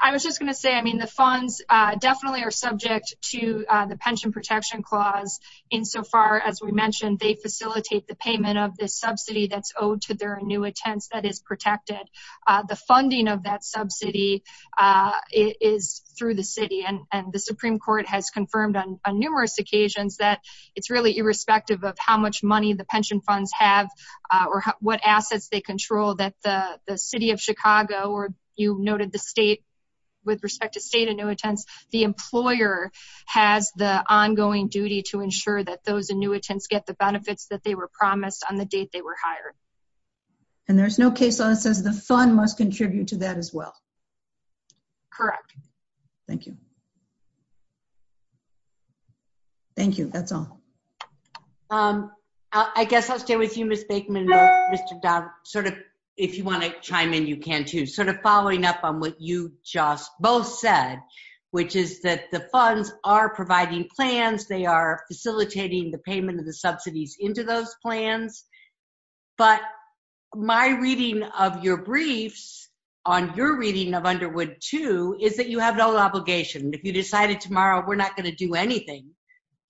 I was just going to say, I mean, the funds definitely are subject to the Pension Protection Clause insofar, as we mentioned, they facilitate the payment of this subsidy that's owed to their annuitants that is protected. The funding of that subsidy is through the city, and the Supreme Court has confirmed on numerous occasions that it's really irrespective of how much money the pension funds have or what assets they control, that the city of Chicago, or you noted with respect to state annuitants, the employer has the ongoing duty to ensure that those annuitants get the benefits that they were promised on the date they were hired. And there's no case law that says the fund must contribute to that as well? Correct. Thank you. Thank you, that's all. I guess I'll stay with you, Ms. Baikman and Mr. Dunn, sort of, if you want to chime in, you can too, sort of following up on what you just both said, which is that the funds are providing plans, they are facilitating the payment of the subsidies into those plans. But my reading of your briefs, on your reading of Underwood too, is that you have no obligation. If you decided tomorrow, we're not going to do anything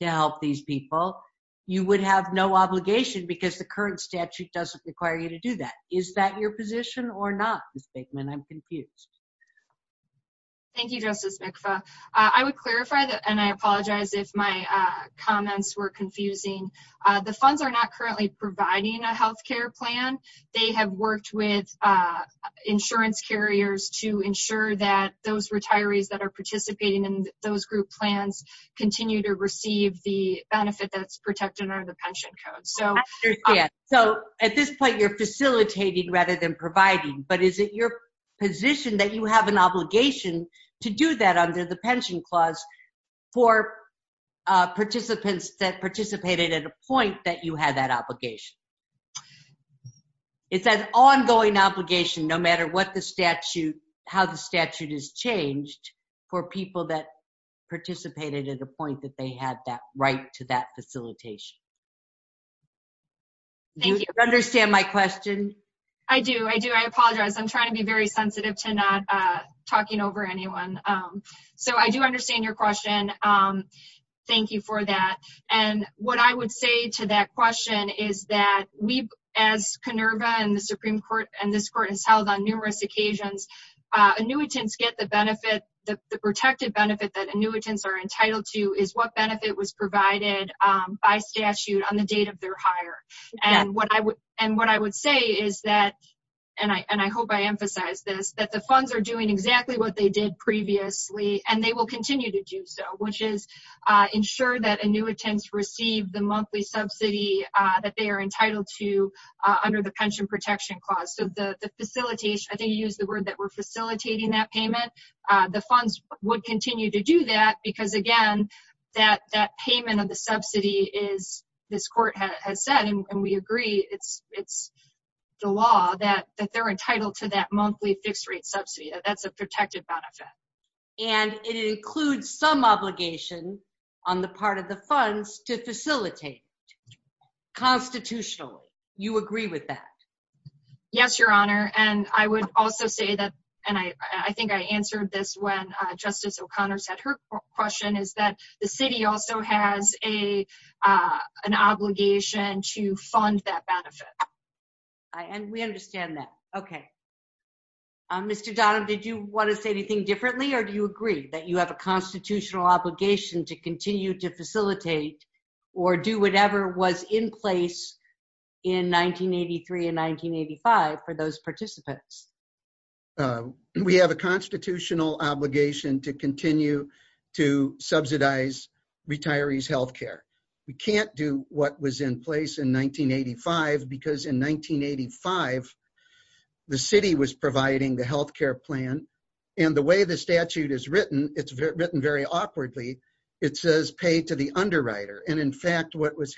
to help these people, you would have no obligation because the current statute doesn't require you to do that. Is that your position or not, Ms. Baikman? I'm confused. Thank you, Justice Nixon. I would clarify, and I apologize if my comments were confusing. The funds are not currently providing a health care plan. They have worked with insurance carriers to ensure that those retirees that are participating in those group plans continue to receive the benefit that's protected under the pension code. I understand. So, at this point, you're facilitating rather than providing, but is it your position that you have an obligation to do that under the pension clause for participants that participated at a point that you had that obligation? It's an ongoing obligation, no matter what the statute, how the statute is changed, for people that participated at a point that they had that right to that facilitation. Do you understand my question? I do. I do. I apologize. I'm trying to be very sensitive to not talking over anyone. So, I do understand your question. Thank you for that. And what I would say to that question is that we, as Conerva and the Supreme Court and this court has held on numerous occasions, annuitants get the benefit, the protected benefit that annuitants are entitled to is what benefit was provided by statute on the date of their hire. And what I would say is that, and I hope I emphasize this, that the funds are doing exactly what they did previously, and they will continue to do so, which is ensure that annuitants receive the monthly subsidy that they are entitled to under the pension protection clause. So, the facilitation, I think you used the word that we're facilitating that payment, the funds would continue to do that because, again, that payment of the subsidy is, this court has said, and we agree, it's the law that they're entitled to that monthly fixed rate subsidy. That's a protected benefit. And it includes some obligations on the part of the funds to facilitate. Constitutionally, you agree with that? Yes, Your Honor. And I would also say that, and I think I answered this when Justice O'Connor said her question, is that the city also has an obligation to fund that benefit. And we understand that. Okay. Mr. Donald, did you want to say anything differently, or do you agree that you have a constitutional obligation to continue to facilitate or do whatever was in place in 1983 and 1985 for those participants? Yes. We have a constitutional obligation to continue to subsidize retirees' healthcare. We can't do what was in place in 1985 because in 1985, the city was providing the healthcare plan. And the way the statute is written, it's written very awkwardly. It says, pay to the underwriter. And in fact, what was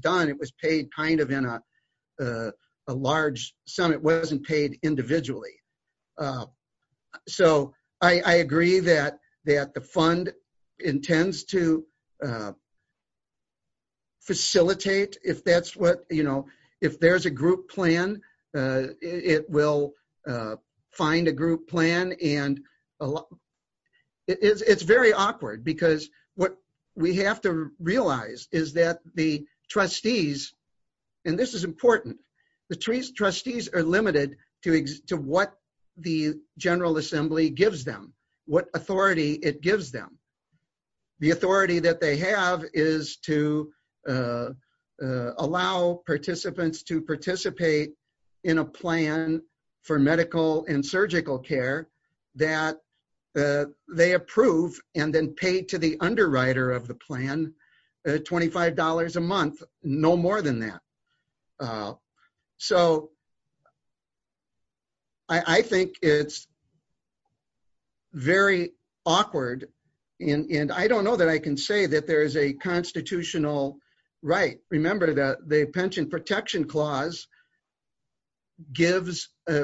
done, it was paid kind of in a large sum. It wasn't paid individually. So I agree that the fund intends to facilitate. If there's a group plan, it will find a group plan. And it's very awkward because what we have to realize is that the trustees, and this is important, the trustees are limited to what the General Assembly gives them, what authority it gives them. The authority that they have is to allow participants to participate in a plan for medical and surgical care that they approve and then pay to the underwriter of the plan $25 a month, no more than that. So I think it's very awkward. And I don't know that I can say that there's a constitutional right. Remember the pension protection clause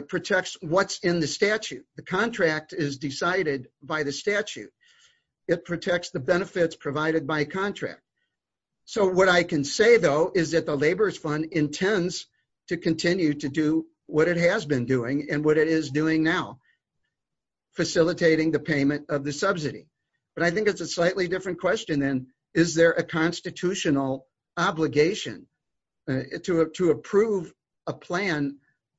protects what's in the statute. The contract is decided by the statute. It protects the benefits provided by contract. So what I can say though, is that the Laborers Fund intends to continue to do what it has been doing and what it is doing now, facilitating the payment of the subsidy. But I think it's a slightly different question then, is there a constitutional obligation to approve a plan?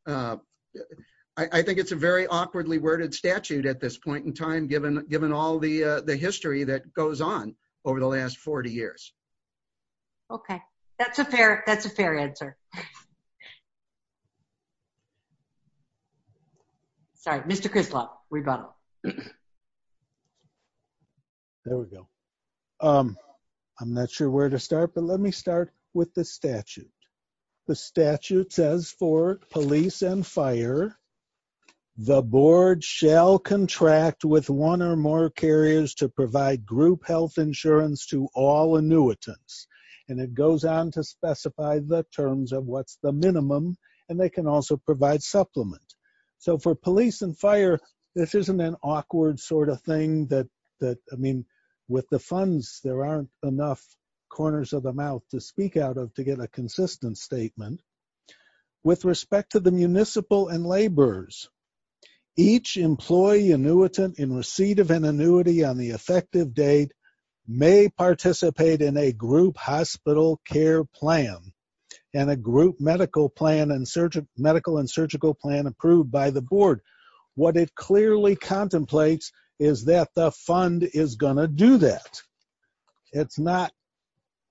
I think it's a very awkwardly worded statute at this point in time, given all the history that we've had over the last 40 years. Okay. That's a fair answer. Sorry, Mr. Crisloff, we've got a... There we go. I'm not sure where to start, but let me start with the statute. The statute says for police and fire, the board shall contract with one or more carriers to provide group health insurance to all annuitants. And it goes on to specify the terms of what's the minimum, and they can also provide supplements. So for police and fire, this isn't an awkward sort of thing that, I mean, with the funds, there aren't enough corners of the mouth to speak out of to get a consistent statement. With respect to the municipal and laborers, each employee annuitant in receipt of an annuity on the effective date may participate in a group hospital care plan and a group medical and surgical plan approved by the board. What it clearly contemplates is that the fund is going to do that. It's not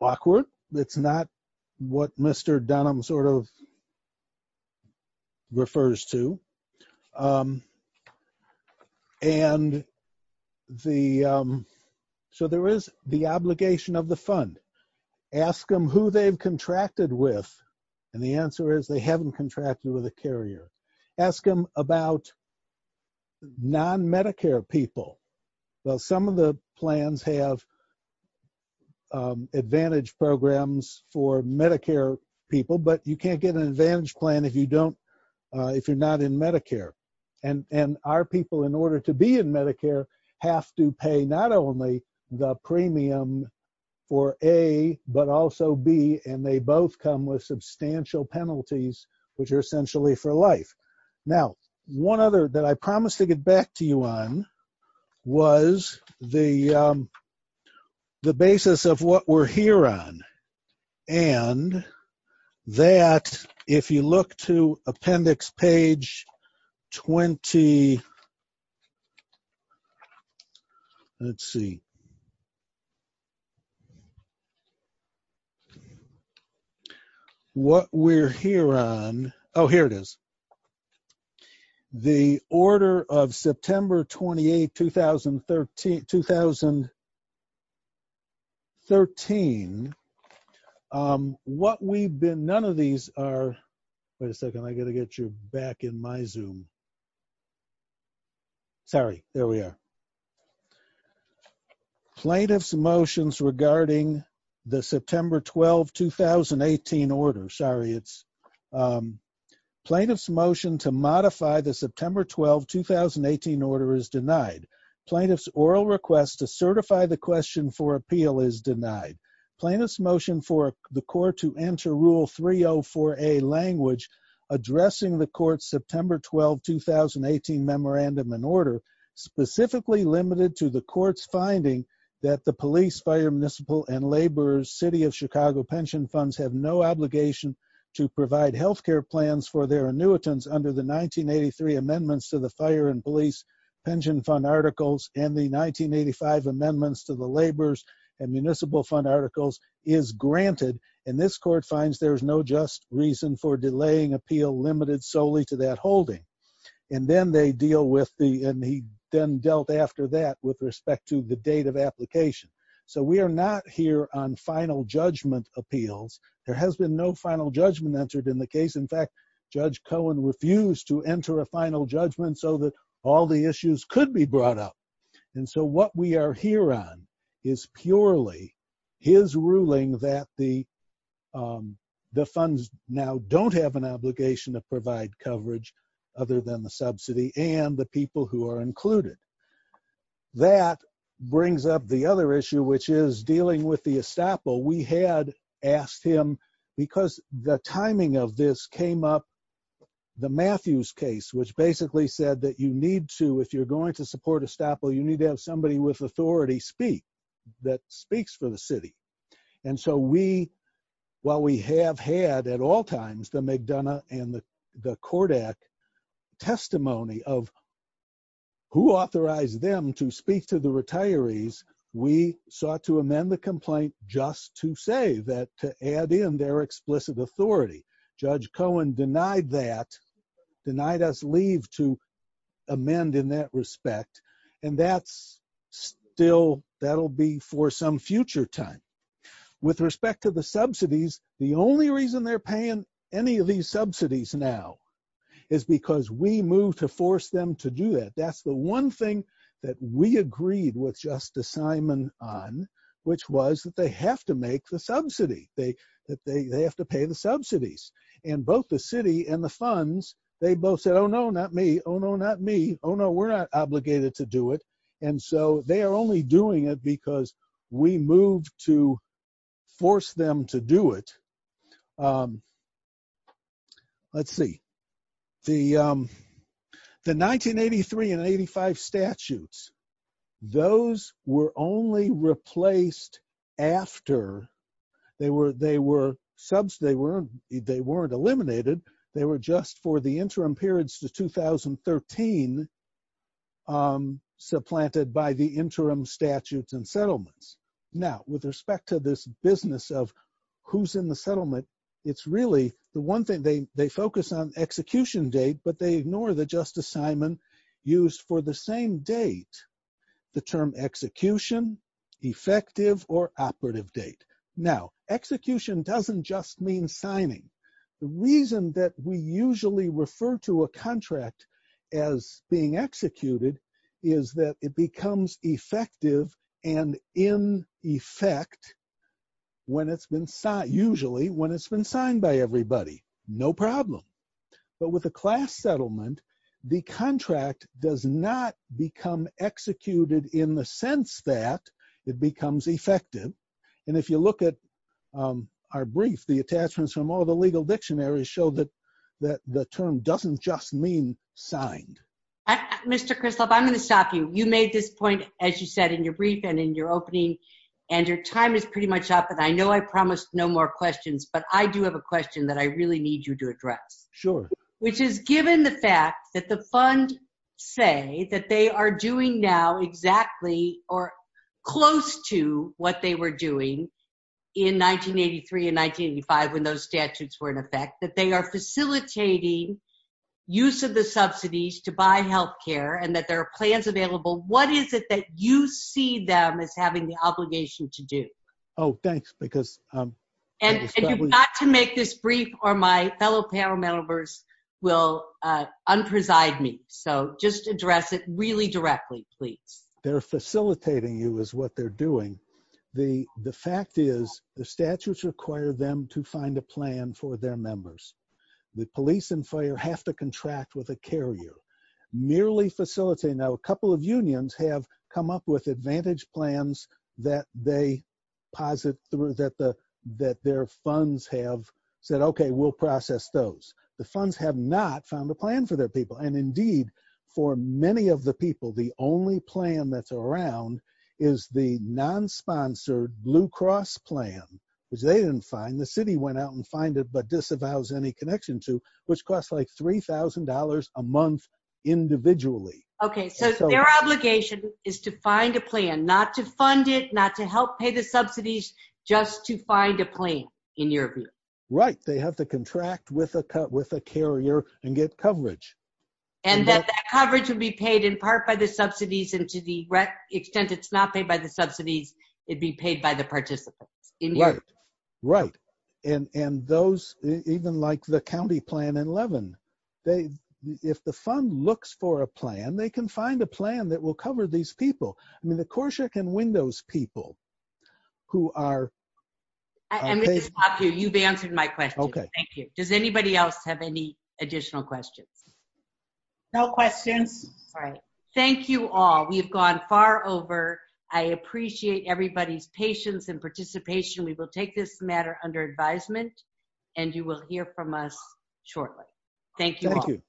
awkward. It's not what Mr. Dunham sort of refers to. And so there is the obligation of the fund. Ask them who they've contracted with. And the answer is they haven't contracted with a carrier. Ask them about non-Medicare people. So some of the plans have advantage programs for Medicare people, but you can't get an if you're not in Medicare. And our people, in order to be in Medicare, have to pay not only the premium for A, but also B, and they both come with substantial penalties, which are essentially for life. Now, one other that I promised to get back to you on was the basis of what we're here on. And that, if you look to appendix page 20, let's see. What we're here on, oh, here it is. The order of September 28, 2013, what we've been, none of these are, wait a second, I got to get you back in my Zoom. Sorry, there we are. Plaintiff's motions regarding the September 12, 2018 order. Sorry, it's plaintiff's motion to modify the September 12, 2018 order is denied. Plaintiff's oral request to certify the question for appeal is denied. Plaintiff's motion for the court to enter rule 304A language addressing the court's September 12, 2018 memorandum and order, specifically limited to the court's finding that the police, fire, municipal, and laborers, city of Chicago pension funds have no obligation to provide healthcare plans for their annuitants under the 1983 amendments to the fire and police pension fund articles and the 1985 amendments to laborers and municipal fund articles is granted. And this court finds there's no just reason for delaying appeal limited solely to that holding. And then they deal with the, and he then dealt after that with respect to the date of application. So we are not here on final judgment appeals. There has been no final judgment entered in the case. In fact, Judge Cohen refused to enter a And so what we are here on is purely his ruling that the, um, the funds now don't have an obligation to provide coverage other than the subsidy and the people who are included. That brings up the other issue, which is dealing with the estoppel. We had asked him because the timing of this came up the Matthews case, which basically said that you need to, if you're going to support estoppel, you need to have somebody with authority speak that speaks for the city. And so we, while we have had at all times, the McDonough and the Kodak testimony of who authorized them to speak to the retirees, we sought to amend the complaint just to say that to add in their explicit authority. Judge Cohen denied that, denied us leave to And that's still, that'll be for some future time. With respect to the subsidies, the only reason they're paying any of these subsidies now is because we move to force them to do that. That's the one thing that we agreed with Justice Simon on, which was that they have to make the subsidy. They have to pay the subsidies. And both the city and the funds, they both said, Oh no, not me. Oh no, not me. Oh no, we're not obligated to do it. And so they are only doing it because we moved to force them to do it. Let's see. The 1983 and 85 statutes, those were only replaced after they were, they were they were, they weren't eliminated. They were just for the interim periods to 2013 supplanted by the interim statutes and settlements. Now, with respect to this business of who's in the settlement, it's really the one thing they focus on execution date, but they ignore the Justice Simon use for the same date. The term execution, effective or operative date. Now execution doesn't just mean signing. The reason that we usually refer to a contract as being executed is that it becomes effective and in effect when it's been thought, usually when it's been signed by everybody, no problem. But with a class settlement, the contract does not become executed in the sense that it becomes effective. And if you look at our brief, the attachments from all the legal dictionaries show that the term doesn't just mean signed. Mr. Kristof, I'm going to stop you. You made this point, as you said, in your brief and in your opening and your time is pretty much up. And I know I promised no more questions, but I do have a question that I really need you to address. Sure. Which is given the fact that the funds say that they are doing now exactly or close to what they were doing in 1983 and 1985, when those statutes were in effect, that they are facilitating use of the subsidies to buy health care and that there are plans available. What is it that you see them as having the obligation to do? Oh, thanks. Because- You've got to make this brief or my fellow panel members will unpreside me. So just address it really directly, please. They're facilitating you is what they're doing. The fact is the statutes require them to find a plan for their members. The police and fire have to contract with a carrier, merely facilitating. Now, a couple of unions have come up with advantage plans that they posit that their funds have said, okay, we'll process those. The funds have not found a plan for their people. And indeed for many of the people, the only plan that's around is the non-sponsored Blue Cross plan because they didn't find, the city went out and find it, but disavows any connection to, which costs like $3,000 a month individually. Okay. So their obligation is to find a plan, not to fund it, not to help pay the subsidies, just to find a plan in your view. Right. They have to contract with a carrier and get coverage. And that coverage would be paid in part by the subsidies. And to the extent it's not paid by the subsidies, it'd be paid by the participant. Right. Right. And those, even like the county plan in Leaven, if the fund looks for a plan, they can find a plan that will cover these people. I mean, the CORSHA can win those people who are- And Mr. Poplar, you've answered my question. Okay. Thank you. Does anybody else have any additional questions? No questions. All right. Thank you all. We've gone far over. I appreciate everybody's patience and participation. We will take this matter under advisement and you will hear from us shortly. Thank you all.